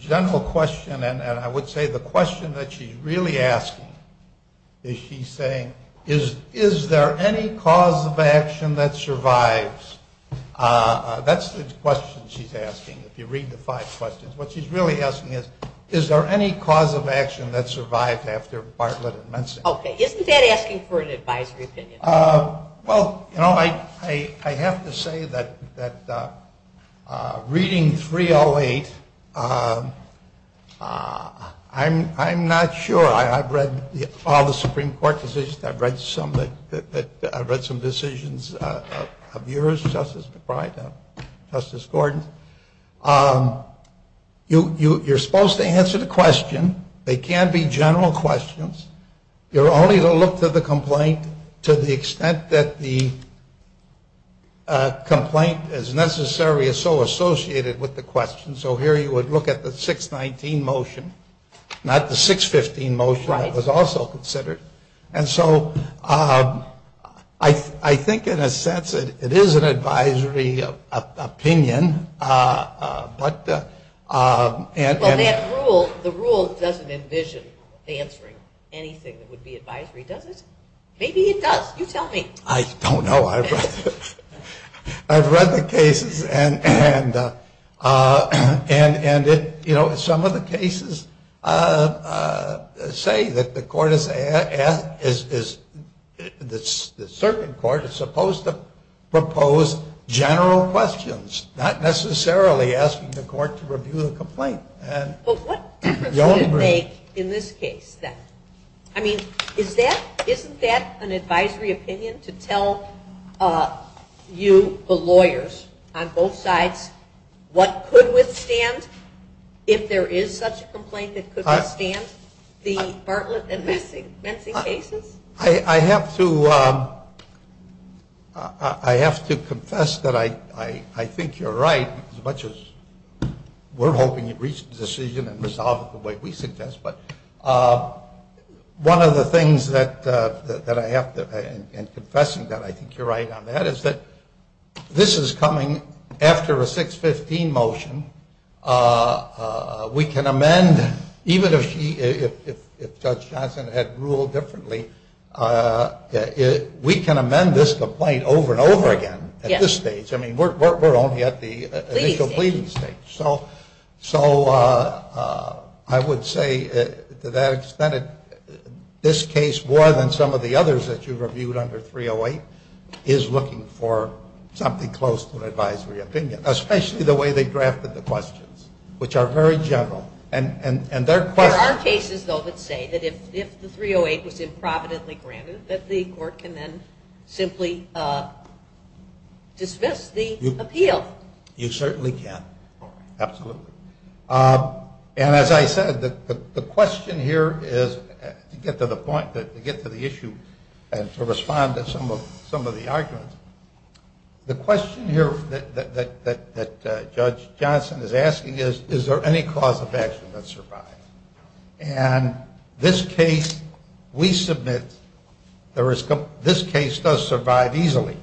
general question, and I would say the question that she's really asking is she's saying, is there any cause of action that survives? That's the question she's asking, if you read the five questions. What she's really asking is, is there any cause of action that survived after Bartlett and Mensing? Okay, isn't that asking for an advisory opinion? Well, you know, I have to say that reading 308, I'm not sure. I've read all the Supreme Court decisions. I've read some decisions of yours, Justice DeFrey, Justice Gordon. You're supposed to answer the question. They can't be general questions. You're only to look to the complaint to the extent that the complaint, as necessary, is so associated with the question. So here you would look at the 619 motion, not the 615 motion that was also considered. And so I think, in a sense, it is an advisory opinion. But the rule doesn't envision answering anything that would be advisory, does it? Maybe it does. You tell me. I don't know. I've read the cases, and, you know, some of the cases say that the court is, that certain courts are supposed to propose general questions, not necessarily asking the court to review the complaint. Well, what is at stake in this case, then? I mean, isn't that an advisory opinion to tell you, the lawyers, on both sides, what could withstand, if there is such a complaint, it could withstand being heartless and menacing cases? I have to confess that I think you're right, as much as we're hoping you'd reach the decision and resolve it the way we suggest. But one of the things that I have to, and confessing that I think you're right on that, is that this is coming after a 615 motion. We can amend, even if Judge Johnson had ruled differently, we can amend this complaint over and over again at this stage. I mean, we're only at the initial pleading stage. So, I would say, to that extent, this case, more than some of the others that you've reviewed under 308, is looking for something close to an advisory opinion, especially the way they drafted the questions, which are very general. And their questions... Well, our cases, though, would say that if the 308 has been providently granted, that the court can then simply dismiss the appeal. You certainly can. Absolutely. And as I said, the question here is, to get to the point, to get to the issue, and to respond to some of the arguments, the question here that Judge Johnson is asking is, is there any cause of action that survives? And this case, we submit, this case does survive easily.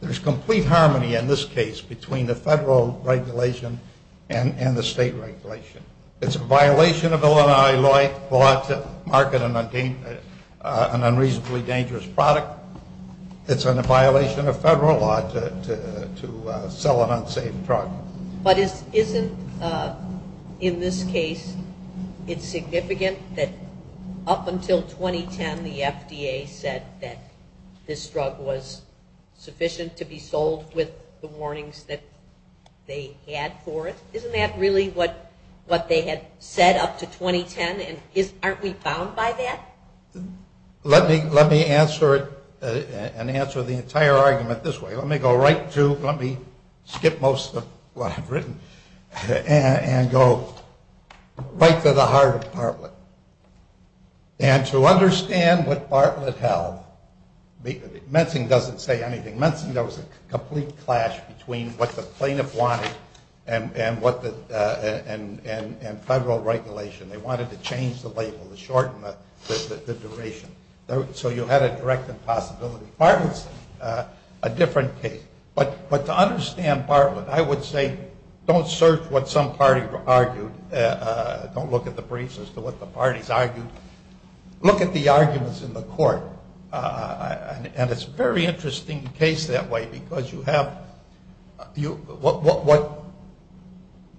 There's complete harmony in this case between the federal regulation and the state regulation. It's a violation of the Illinois law to market an unreasonably dangerous product. It's a violation of federal law to sell an unsafe drug. But isn't, in this case, it significant that up until 2010, the FDA said that this drug was sufficient to be sold with the warnings that they had for it? Isn't that really what they had said up to 2010? And aren't we bound by that? Let me answer the entire argument this way. Let me go right to, let me skip most of what I've written, and go right to the heart of the problem. And to understand what Bartlett held, Menting doesn't say anything. Menting, there was a complete clash between what the plaintiff wanted and federal regulation. They wanted to change the label, to shorten the duration. So you had a direct impossibility. Bartlett's a different case. But to understand Bartlett, I would say, don't search what some party argued. Don't look at the briefs as to what the parties argued. Look at the arguments in the court. And it's a very interesting case that way, because you have what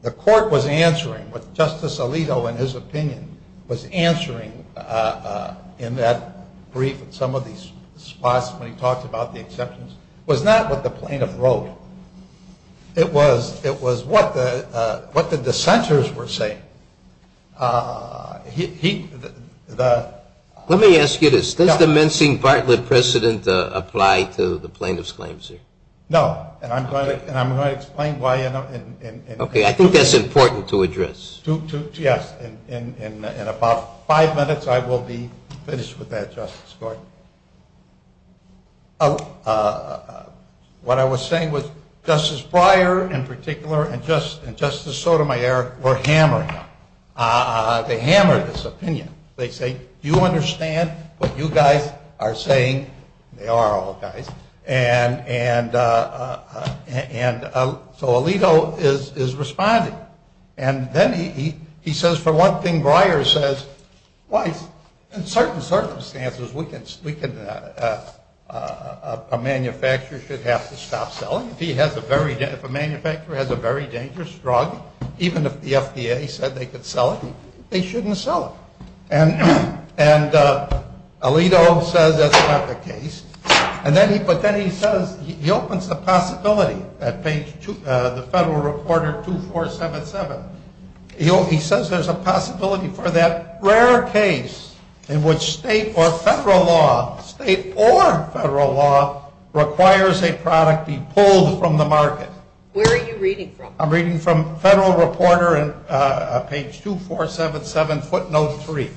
the court was answering, what Justice Alito, in his opinion, was answering in that brief, some of these spots when he talked about the exceptions, was not what the plaintiff wrote. It was what the dissenters were saying. Let me ask you this. Did the Menting-Bartlett precedent apply to the plaintiff's claims here? No. And I'm going to explain why in a minute. Okay. I think that's important to address. Yes. In about five minutes, I will be finished with that justice story. What I was saying was Justice Breyer, in particular, and Justice Sotomayor were hammered. They hammered this opinion. They say, do you understand what you guys are saying? They are all guys. And so Alito is responding. And then he says, for one thing, Breyer says, in certain circumstances, a manufacturer should have to stop selling. If a manufacturer has a very dangerous drug, even if the FDA said they could sell it, they shouldn't sell it. And Alito says that's not the case. But then he says, he opens the possibility at page 2, the Federal Reporter 2477. He says there's a possibility for that rare case in which state or federal law, state or federal law, requires a product be pulled from the market. Where are you reading from? I'm reading from Federal Reporter on page 2477, footnote 3.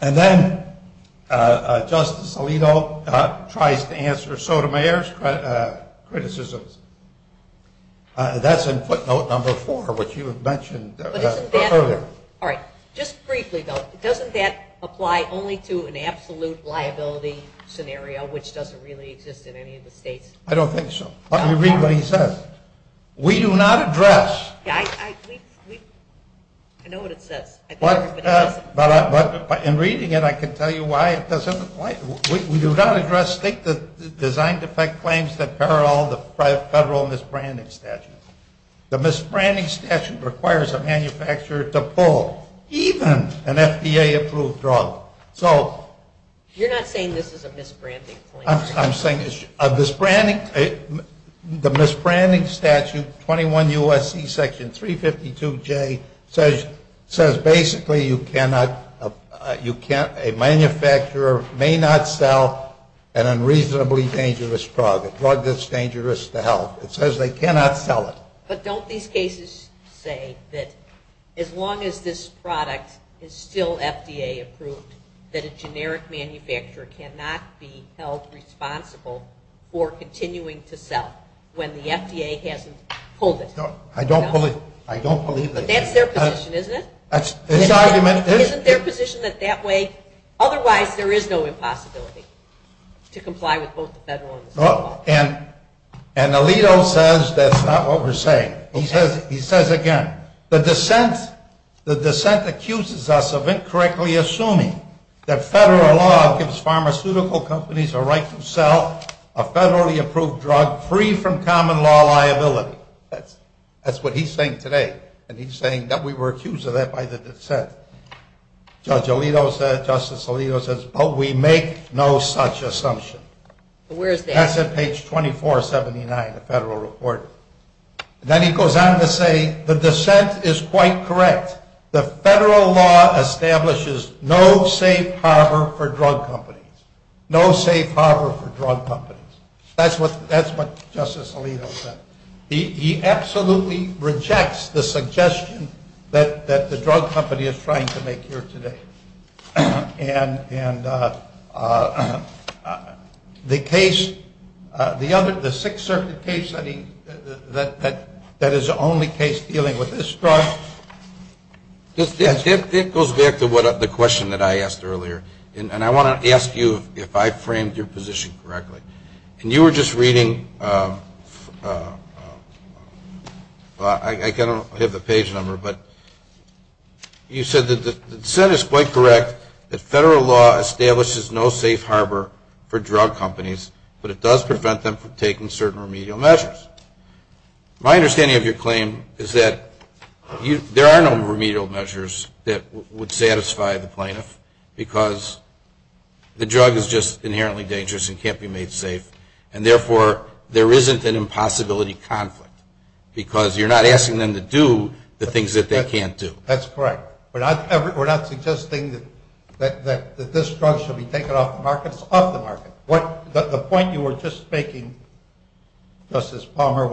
And then Justice Alito tries to answer Sotomayor's criticism. That's in footnote number 4, which you mentioned earlier. All right. Just briefly, though, doesn't that apply only to an absolute liability scenario, which doesn't really exist in any of the states? I don't think so. Let me read what he says. We do not address. I know what it says. But in reading it, I can tell you why. We do not address state-designed effect claims that parallel the federal misbranding statute. The misbranding statute requires a manufacturer to pull even an FDA-approved drug. You're not saying this is a misbranding claim? I'm saying the misbranding statute, 21 U.S.C. section 352J, says basically a manufacturer may not sell an unreasonably dangerous product, a drug that's dangerous to health. It says they cannot sell it. But don't these cases say that as long as this product is still FDA-approved, that a generic manufacturer cannot be held responsible for continuing to sell when the FDA hasn't pulled it? I don't believe that. But that's their position, isn't it? That's the argument. Isn't their position that that way? Otherwise, there is no impossibility to comply with both the federal and the state. And Alito says that's not what we're saying. He says again, the dissent accuses us of incorrectly assuming that federal law gives pharmaceutical companies a right to sell a federally-approved drug free from common-law liability. That's what he's saying today. And he's saying that we were accused of that by the dissent. Judge Alito said, Justice Alito says, but we make no such assumption. That's at page 2479, the federal report. Then he goes on to say, the dissent is quite correct. The federal law establishes no safe harbor for drug companies. No safe harbor for drug companies. That's what Justice Alito said. He absolutely rejects the suggestion that the drug company is trying to make here today. And the case, the Sixth Circuit case that is the only case dealing with this drug. It goes back to the question that I asked earlier. And I want to ask you if I framed your position correctly. And you were just reading, I don't have the page number, but you said that the dissent is quite correct. The federal law establishes no safe harbor for drug companies, but it does prevent them from taking certain remedial measures. My understanding of your claim is that there are no remedial measures that would satisfy the plaintiff because the drug is just inherently dangerous and can't be made safe. And therefore, there isn't an impossibility conflict because you're not asking them to do the things that they can't do. That's correct. We're not suggesting that this drug should be taken off the market. It's off the market. The point you were just making, Justice Palmer,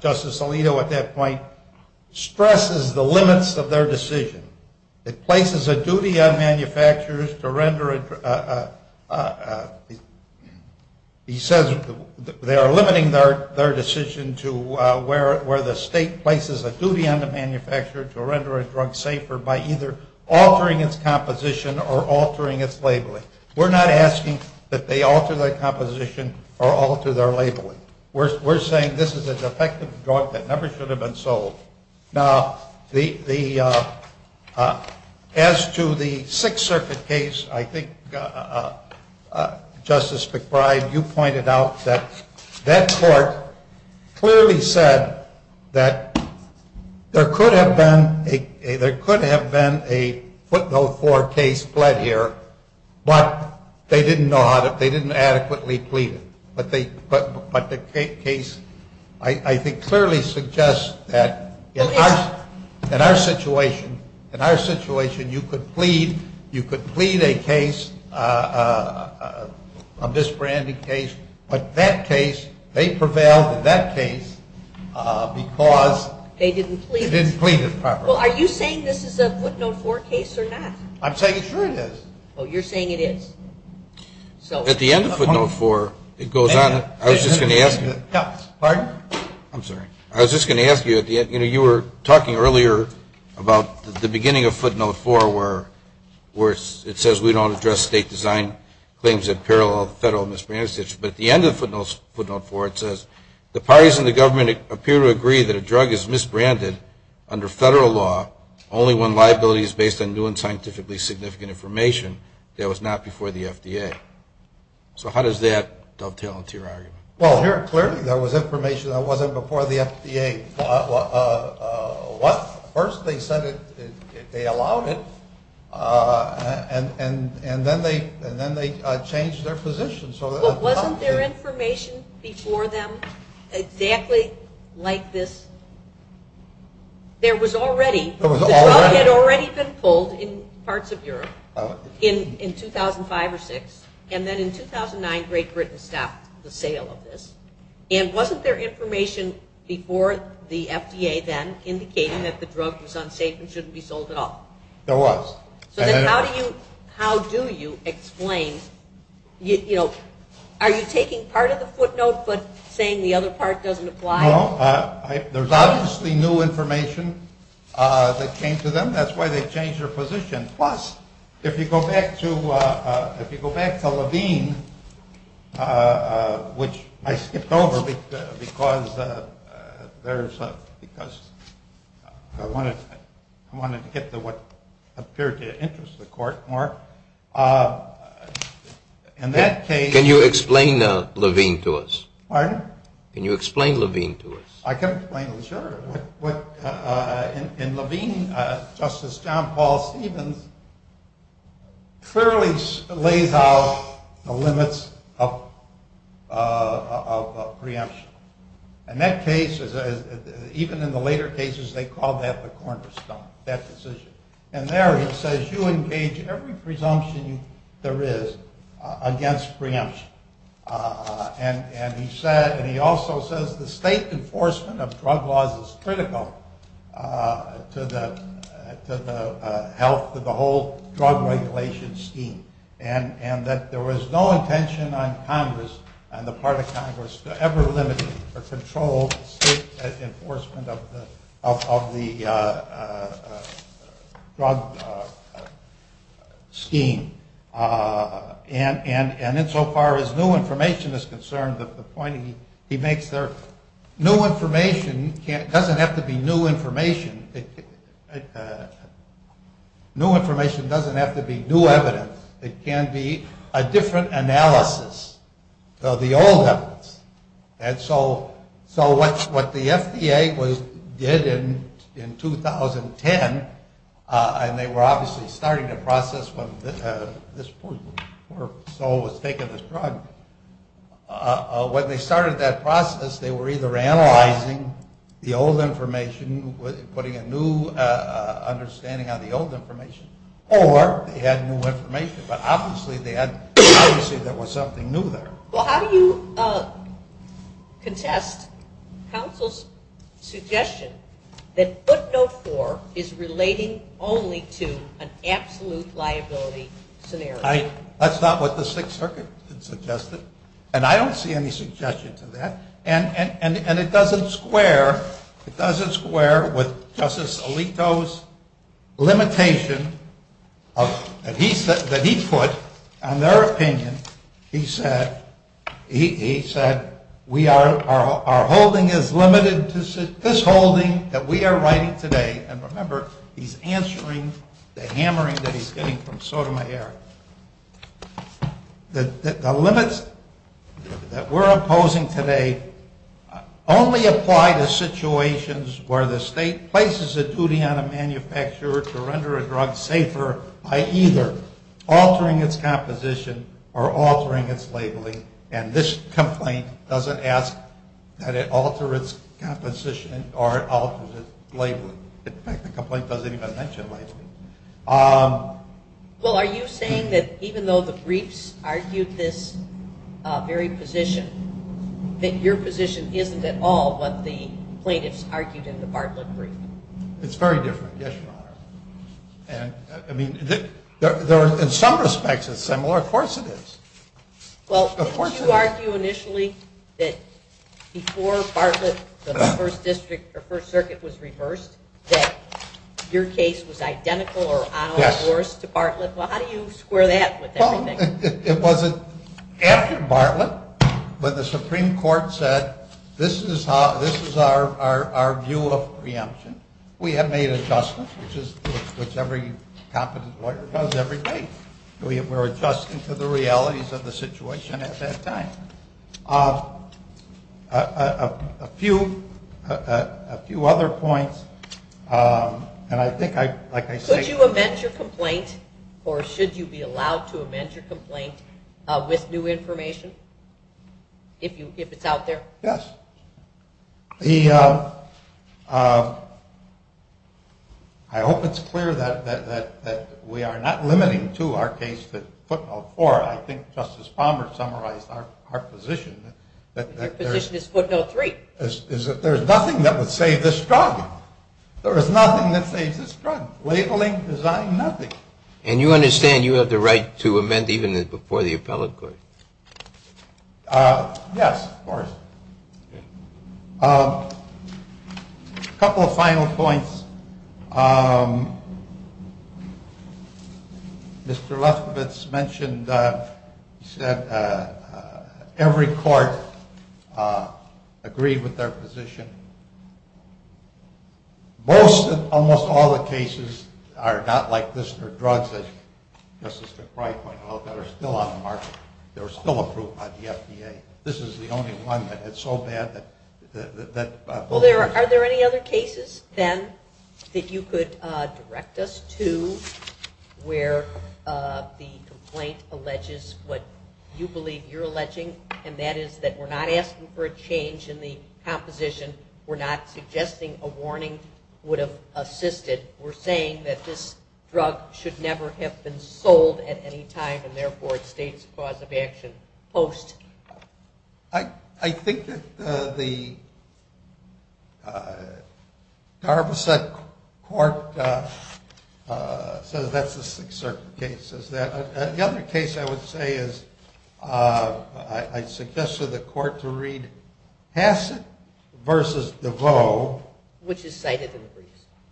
Justice Alito at that point, stresses the limits of their decision. It places a duty on manufacturers to render it. He says they are limiting their decision to where the state places a duty on the manufacturer to render a drug safer by either altering its composition or altering its labeling. We're not asking that they alter their composition or alter their labeling. We're saying this is an effective drug that never should have been sold. Now, as to the Sixth Circuit case, I think, Justice McBride, you pointed out that that court clearly said that there could have been a footnote 4 case fled here, but they didn't adequately plead it. But the case, I think, clearly suggests that in our situation, in our situation you could plead a case, a misbranded case, but that case, they prevailed in that case because they didn't plead it properly. Well, are you saying this is a footnote 4 case or not? I'm saying sure it is. Oh, you're saying it is. At the end of footnote 4, it goes on. I was just going to ask you. Pardon? I'm sorry. I was just going to ask you. You were talking earlier about the beginning of footnote 4 where it says we don't address state-designed claims that parallel federal misbranded states, but at the end of footnote 4 it says the parties in the government appear to agree that a drug is misbranded under federal law only when liability is based on new scientifically significant information that was not before the FDA. So how does that dovetail into your argument? Well, clearly there was information that wasn't before the FDA. First they said they allowed it, and then they changed their position. Wasn't there information before them exactly like this? There was already. There was already? The drug had already been pulled in parts of Europe in 2005 or 2006, and then in 2009 Great Britain stopped the sale of this. And wasn't there information before the FDA then indicating that the drug was unsafe and shouldn't be sold at all? There was. So then how do you explain, you know, are you taking part of the footnote but saying the other part doesn't apply? No. There's obviously new information that came to them. That's why they changed their position. Plus, if you go back to Levine, which I skipped over because I wanted to get to what appeared to interest the court more. Can you explain Levine to us? Pardon? Can you explain Levine to us? I can explain it, sure. In Levine, Justice John Paul Stevens clearly lays out the limits of preemption. And that case, even in the later cases, they called that the cornerstone, that decision. And there he says you engage every presumption there is against preemption. And he also says the state enforcement of drug laws is critical to the health, to the whole drug regulation scheme. And that there was no intention on Congress, on the part of Congress, to ever limit or control state enforcement of the drug scheme. And insofar as new information is concerned, the point he makes there, new information doesn't have to be new information. New information doesn't have to be new evidence. It can be a different analysis of the old evidence. And so what the FDA did in 2010, and they were obviously starting the process when this point where Saul was taking this drug, when they started that process, they were either analyzing the old information, putting a new understanding on the old information, or they had new information. But obviously they had to say there was something new there. Well, how do you contest counsel's suggestion that footnote 4 is relating only to an absolute liability scenario? That's not what the Sixth Circuit suggested. And I don't see any suggestion to that. And it doesn't square with Justice Alito's limitation that he put on their opinion. He said our holding is limited to this holding that we are writing today. And remember, he's answering the hammering that he's getting from Sotomayor. The limits that we're opposing today only apply to situations where the state places a duty on a manufacturer to render a drug safer by either altering its composition or altering its labeling. And this complaint doesn't ask that it alter its composition or alter its labeling. In fact, the complaint doesn't even mention labeling. Well, are you saying that even though the briefs argued this very position, that your position isn't at all what the plaintiffs argued in the Bartlett brief? It's very different. Yes, Your Honor. In some respects it's similar. Of course it is. Well, before you argue initially that before Bartlett, the First Circuit was reversed, that your case was identical or on a course to Bartlett, well, how do you square that with everything? It wasn't after Bartlett, but the Supreme Court said this is our view of preemption. We had made adjustments, which every competent lawyer does every day. We were adjusting to the realities of the situation at that time. A few other points, and I think, like I said- Could you amend your complaint, or should you be allowed to amend your complaint, with new information if it's out there? Yes. I hope it's clear that we are not limiting to our case with footnote four. I think Justice Palmer summarized our position. The position is footnote three. There's nothing that would save this trial. There is nothing that saves this trial. Labeling, design, nothing. And you understand you have the right to amend even before the appellate court? Yes, of course. A couple of final points. Mr. Lefkowitz mentioned that every court agreed with their position. Almost all the cases are not like this for drugs, as Justice McBride pointed out, that are still on the market, that are still approved by the FDA. This is the only one that's so bad that- Well, are there any other cases, then, that you could direct us to where the complaint alleges what you believe you're alleging, and that is that we're not asking for a change in the composition. We're not suggesting a warning would have assisted. We're saying that this drug should never have been sold at any time, and, therefore, state's cause of action post. I think that the Jarvisett Court says that's a Sixth Circuit case. The other case I would say is I suggest to the court to read Hassett v. DeVoe. Which is cited in the brief.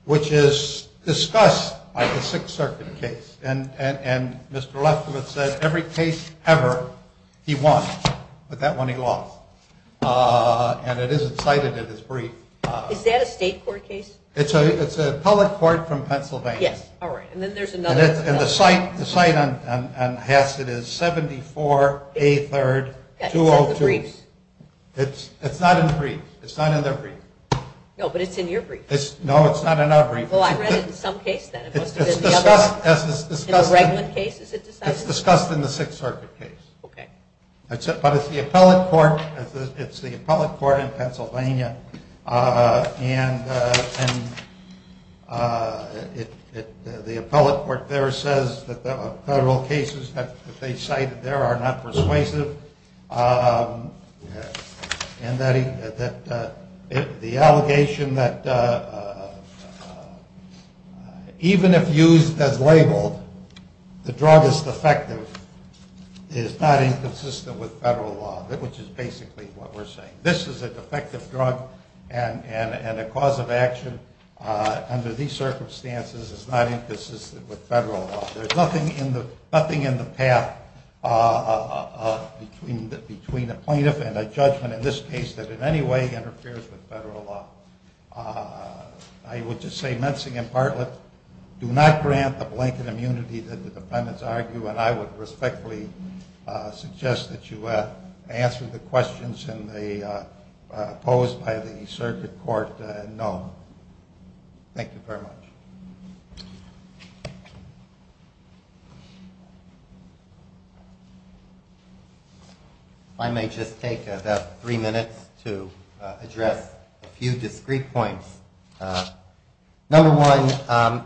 Which is discussed by the Sixth Circuit case. And Mr. Lefkowitz said every case ever, he won. But that one he lost. And it is cited in his brief. Is that a state court case? It's a public court from Pennsylvania. Yes. All right. And then there's another- And the site on Hassett is 74A3-203. It's not in the brief. No, it's not in our brief. It's discussed in the Sixth Circuit case. But it's the appellate court in Pennsylvania. And the appellate court there says that the federal cases that they cite there are not persuasive. And that the allegation that even if used as labeled, the drug is defective, is not inconsistent with federal law. Which is basically what we're saying. This is a defective drug and a cause of action under these circumstances is not inconsistent with federal law. There's nothing in the path between a plaintiff and a judgment in this case that in any way interferes with federal law. I would just say, Mensing and Bartlett, do not grant the blanket immunity that the defendants argue. And I would respectfully suggest that you answer the questions posed by the circuit court known. Thank you very much. I may just take about three minutes to address a few discreet points. Number one,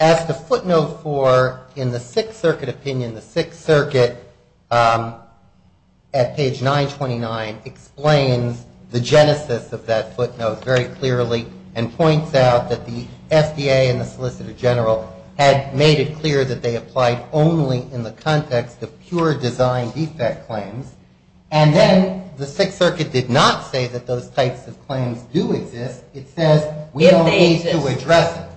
as the footnote for in the Sixth Circuit opinion, the Sixth Circuit at page 929 explains the genesis of that footnote very clearly. And points out that the FDA and the Solicitor General had made it clear that they applied only in the context of pure design defect claims. And then the Sixth Circuit did not say that those types of claims do exist. It says, we have made to address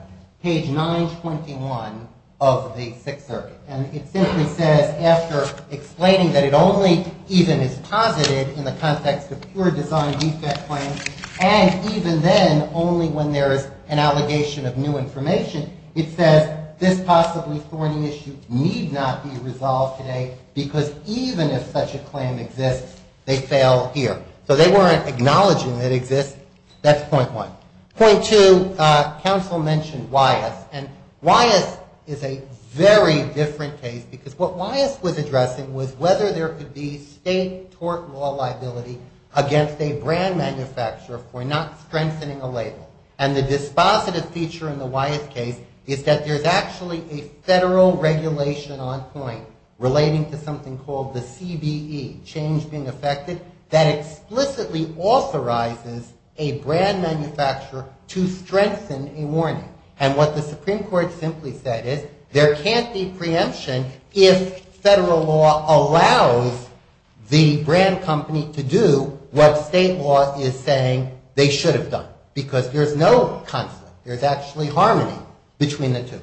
page 921 of the Sixth Circuit. And it simply says, after explaining that it only even is positive in the context of pure design defect claims. And even then, only when there's an allegation of new information, it says, this possibly foreign issue need not be resolved today. Because even if such a claim exists, they fail here. So they weren't acknowledging it exists. That's point one. Point two, counsel mentioned WIAS. And WIAS is a very different case. Because what WIAS was addressing was whether there could be state tort law liability against a brand manufacturer for not strengthening a label. And the dispositive feature in the WIAS case is that there's actually a federal regulation on points relating to something called the CBE, change being affected. That explicitly authorizes a brand manufacturer to strengthen a warning. And what the Supreme Court simply said is, there can't be preemption if federal law allows the brand company to do what state law is saying they should have done. Because there's no conflict. There's actually harmony between the two.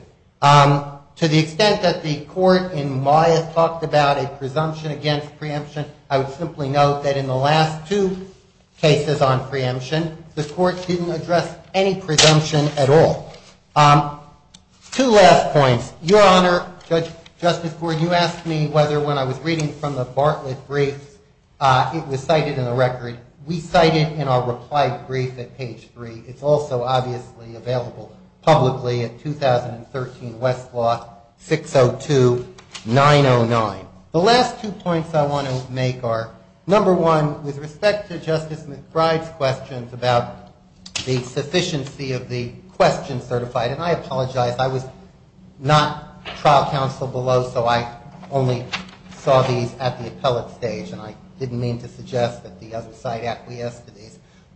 To the extent that the court in WIAS talked about a presumption against preemption, I would simply note that in the last two cases on preemption, the court didn't address any presumption at all. Two last points. Your Honor, Judge Justice Ford, you asked me whether when I was reading from the Bartlett brief, it was cited in the record. We cite it in our reply brief at page three. It's also obviously available publicly at 2013 Westlaw 602-909. The last two points I want to make are, number one, with respect to Justice McBride's questions about the sufficiency of the question certified. And I apologize. I was not trial counsel below, so I only saw these at the appellate stage. And I didn't mean to suggest that the other side actually has to be.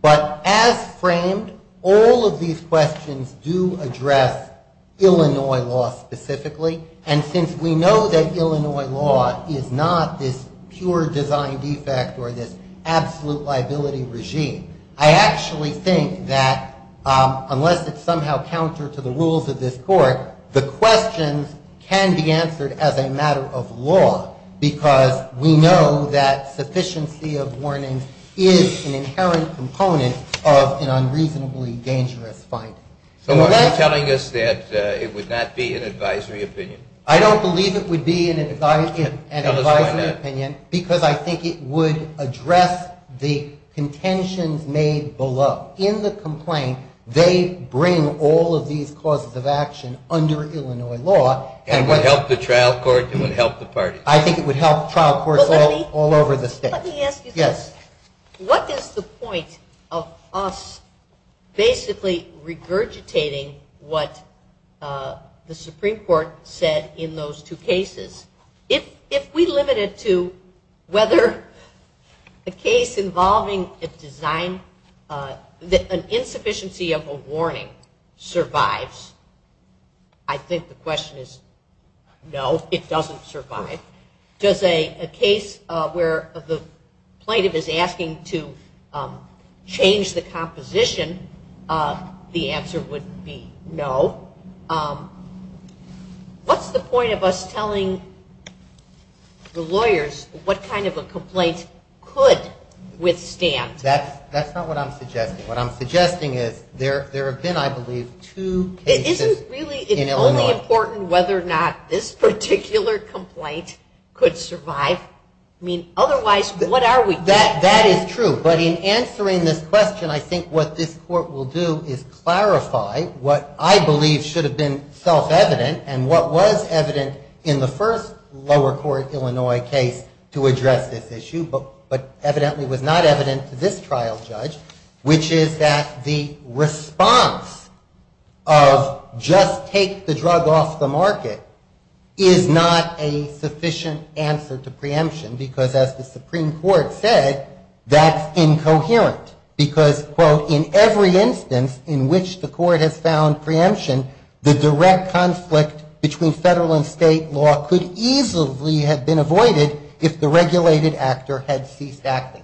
But as framed, all of these questions do address Illinois law specifically. And since we know that Illinois law is not this pure design defect or this absolute liability regime, I actually think that unless it's somehow counter to the rules of this court, the questions can be answered as a matter of law. Because we know that sufficiency of warnings is an inherent component of an unreasonably dangerous fine. So why are you telling us that it would not be an advisory opinion? I don't believe it would be an advisory opinion because I think it would address the contention made below. In the complaint, they bring all of these causes of action under Illinois law. And it would help the trial court and it would help the parties. I think it would help the trial court all over the state. Let me ask you this. What is the point of us basically regurgitating what the Supreme Court said in those two cases? If we limit it to whether a case involving an insufficiency of a warning survives, I think the question is no, it doesn't survive. Does a case where the plaintiff is asking to change the composition, the answer would be no. What's the point of us telling the lawyers what kind of a complaint could withstand? That's not what I'm suggesting. What I'm suggesting is there have been, I believe, two cases in Illinois. It's only important whether or not this particular complaint could survive. I mean, otherwise, what are we doing? That is true. But in answering this question, I think what this court will do is clarify what I believe should have been self-evident and what was evident in the first lower court Illinois case to address this issue, but evidently was not evident to this trial judge, which is that the response of just take the drug off the market is not a sufficient answer to preemption because, as the Supreme Court said, that's incoherent because, quote, in every instance in which the court has found preemption, the direct conflict between federal and state law could easily have been avoided if the regulated actor had ceased acting.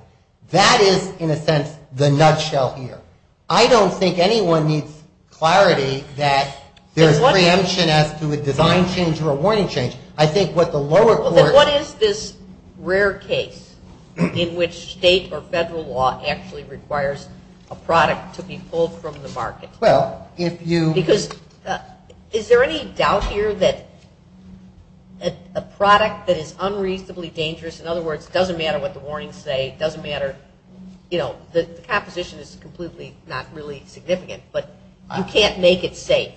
That is, in a sense, the nutshell here. I don't think anyone needs clarity that there's preemption as to a divine change or a warning change. I think what the lower court… What is this rare case in which state or federal law actually requires a product to be pulled from the market? Well, if you… Because is there any doubt here that a product that is unreasonably dangerous, in other words, it doesn't matter what the warnings say, it doesn't matter, you know, the composition is completely not really significant, but you can't make it safe.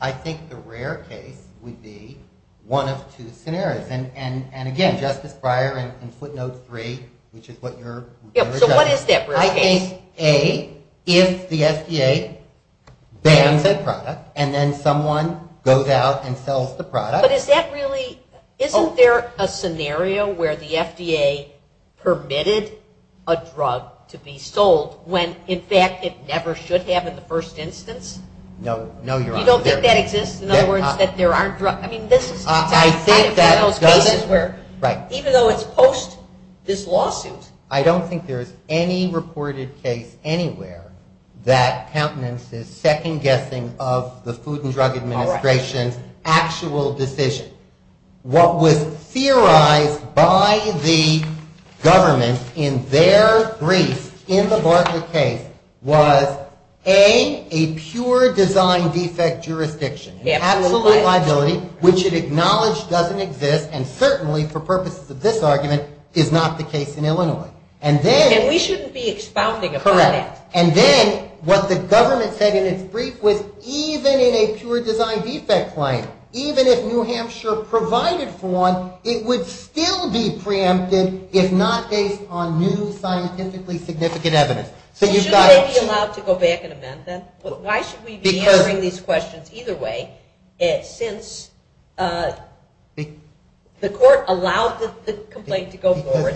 I think the rare case would be one of two scenarios. And, again, Justice Breyer, in footnote three, which is what you're… So what is different? In my case, A, if the FDA bans a product and then someone goes out and sells the product… But is that really… isn't there a scenario where the FDA permitted a drug to be sold when, in fact, it never should have in the first instance? No, you're… You don't think that exists? In other words, that there aren't drug… I mean, this… I think that… I think that's where… Right. Even though it's post this lawsuit… I don't think there's any reported case anywhere that countenances second-guessing of the Food and Drug Administration's actual decision. What was theorized by the government in their brief in the Bartlett case was, A, a pure design defect jurisdiction. Absolutely. It had a little bit of liability, which it acknowledged doesn't exist, and certainly, for purposes of this argument, is not the case in Illinois. And then… And we shouldn't be expounding upon that. Correct. And then, what the government said in its brief was, even in a pure design defect plan, even if New Hampshire provided for one, it would still be preemptive, if not based on new scientifically significant evidence. So you… Shouldn't they be allowed to go back and amend them? Because… The court allows this complaint to go forward,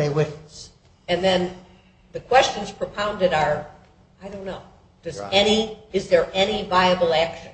and then the questions propounded are, I don't know, is there any viable action?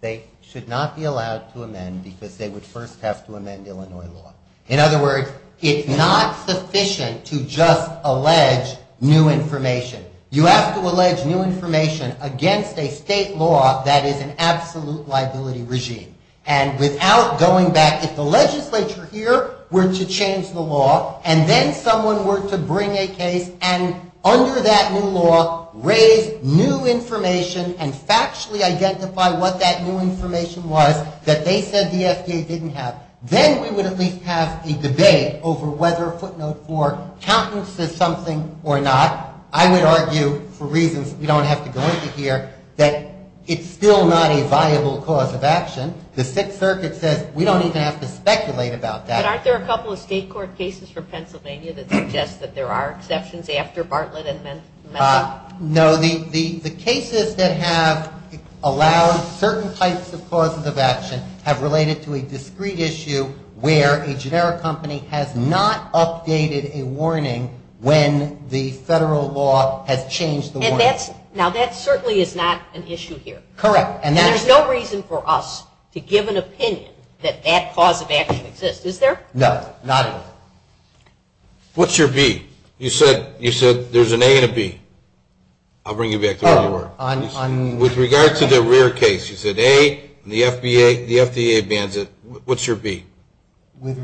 They should not be allowed to amend, because they would first have to amend Illinois law. In other words, it's not sufficient to just allege new information. You have to allege new information against a state law that is an absolute liability regime. And without going back, if the legislature here were to change the law, and then someone were to bring a case and, under that new law, raise new information and factually identify what that new information was that they said the FDA didn't have, then we would at least have a debate over whether a footnote or countenance is something or not. I would argue, for reasons you don't have to go into here, that it's still not a viable cause of action. The Fifth Circuit says we don't even have to speculate about that. But aren't there a couple of state court cases from Pennsylvania that suggest that there are exceptions after Bartlett and then… No. The cases that have allowed certain types of causes of action have related to a discrete issue where a generic company has not updated a warning when the federal law has changed the warning. Now, that certainly is not an issue here. Correct. And there's no reason for us to give an opinion that that cause of action exists. Is there? No. Not at all. What's your B? You said there's an A and a B. I'll bring you back to that. With regard to the rear cases, the A, the FDA, the FDA abandoned, what's your B?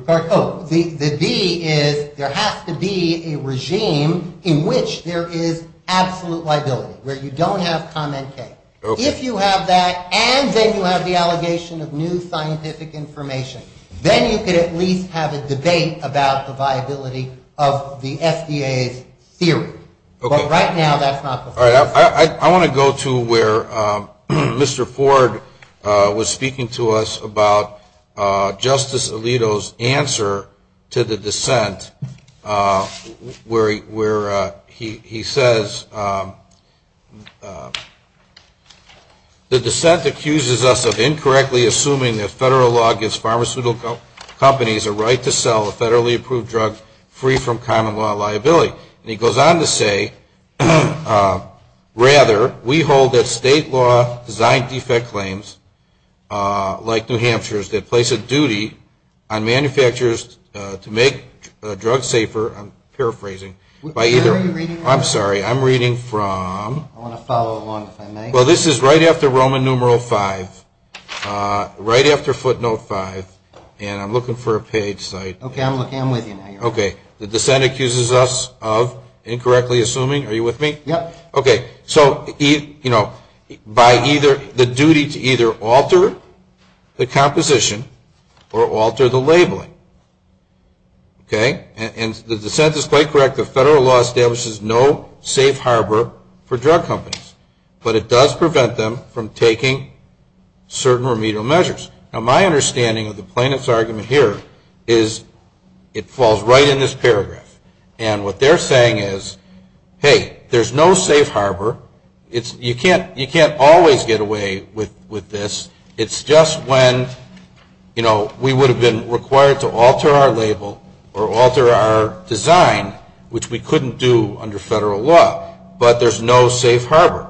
Oh, the B is there has to be a regime in which there is absolute liability, where you don't have commentators. If you have that and then you have the allegation of new scientific information, then you could at least have a debate about the viability of the FDA's theory. But right now that's not the case. All right. I want to go to where Mr. Ford was speaking to us about Justice Alito's answer to the dissent, where he says, the dissent accuses us of incorrectly assuming that federal law gives pharmaceutical companies a right to sell a federally approved drug free from common law liability. And he goes on to say, rather, we hold that state law design defect claims like New Hampshire's that place a duty on manufacturers to make drugs safer. I'm paraphrasing. I'm sorry. I'm reading from. I want to follow along if I may. Well, this is right after Roman numeral five, right after footnote five. And I'm looking for a page site. Okay. I'm with you now. Okay. The dissent accuses us of incorrectly assuming. Are you with me? Yeah. Okay. So, you know, by either the duty to either alter the composition or alter the labeling. Okay. And the dissent is quite correct that federal law establishes no safe harbor for drug companies. But it does prevent them from taking certain remedial measures. Now, my understanding of the plaintiff's argument here is it falls right in this paragraph. And what they're saying is, hey, there's no safe harbor. You can't always get away with this. It's just when, you know, we would have been required to alter our label or alter our design, which we couldn't do under federal law. But there's no safe harbor.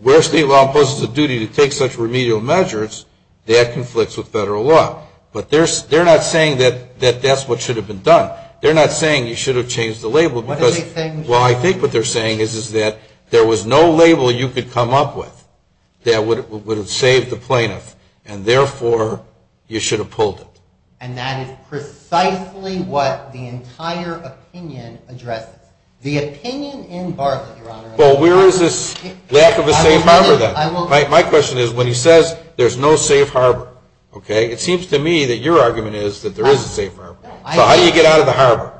Where state law imposes a duty to take such remedial measures, that conflicts with federal law. But they're not saying that that's what should have been done. They're not saying you should have changed the label. Well, I think what they're saying is that there was no label you could come up with that would have saved the plaintiff. And, therefore, you should have pulled it. And that is precisely what the entire opinion addresses. The opinion in Barclay, Your Honor. Well, where is this lack of a safe harbor then? My question is, when he says there's no safe harbor, okay, it seems to me that your argument is that there is a safe harbor. So how do you get out of the harbor?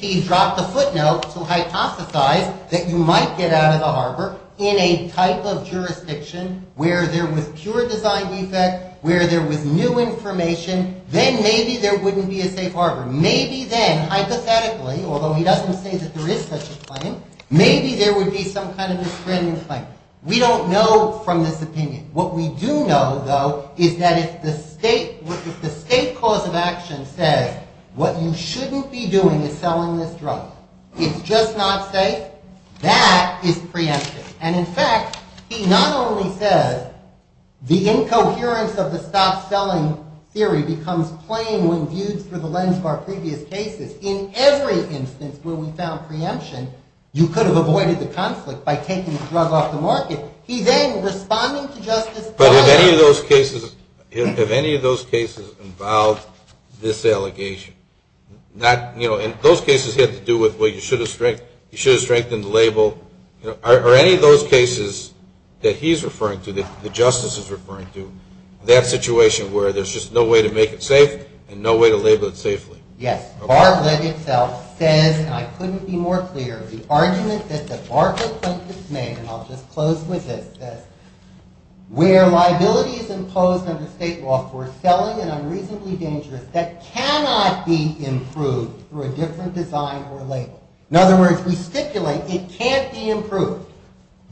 He dropped the footnote to hypothesize that you might get out of the harbor in a type of jurisdiction where there was pure design defect, where there was new information, then maybe there wouldn't be a safe harbor. Maybe then, hypothetically, although he doesn't say that there is such a claim, maybe there would be some kind of a friendly claim. We don't know from this opinion. What we do know, though, is that if the state cause of action says what you shouldn't be doing is selling this drug, it's just not safe, that is preemptive. And in fact, he not only says the incoherence of the stop-selling theory becomes plain when viewed through the lens of our previous cases. In every instance where we found preemption, you could have avoided the conflict by taking the drug off the market. He then responded to Justice Barclay. But have any of those cases involved disallegation? And those cases have to do with, well, you should have strengthened the label. Are any of those cases that he's referring to, that the justice is referring to, that situation where there's just no way to make it safe and no way to label it safely? Yes. Barclay himself said, and I couldn't be more clear, the argument that Justice Barclay has made, and I'll just close with this, where liability is imposed on the state law for selling an unreasonably dangerous drug that cannot be improved through a different design or label. In other words, we stipulate it can't be improved.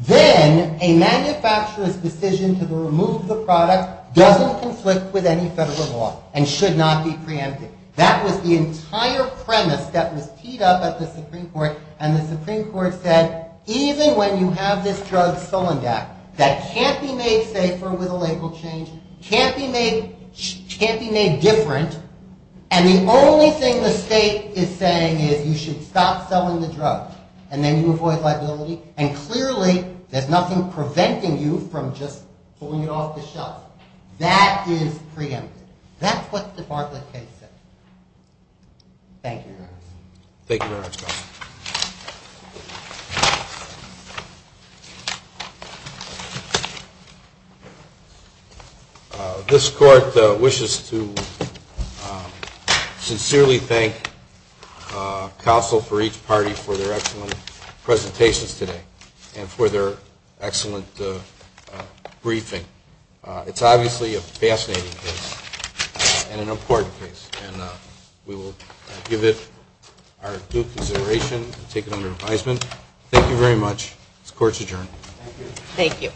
Then a manufacturer's decision to remove the product doesn't conflict with any federal law and should not be preemptive. That was the entire premise that was teed up at the Supreme Court. And the Supreme Court said, even when you have this drug selling back, that can't be made safe over the label change, can't be made different. And the only thing the state is saying is you should stop selling the drug. And then you avoid liability. And clearly, there's nothing preventing you from just pulling it off the shelf. That is preemptive. That's what the Barclay case says. Thank you, Your Honor. Thank you, Your Honor. This Court wishes to sincerely thank counsel for each party for their excellent presentations today and for their excellent briefing. It's obviously a fascinating case and an important case. And we will give it our due consideration and take it under advisement. Thank you very much. This Court is adjourned. Thank you.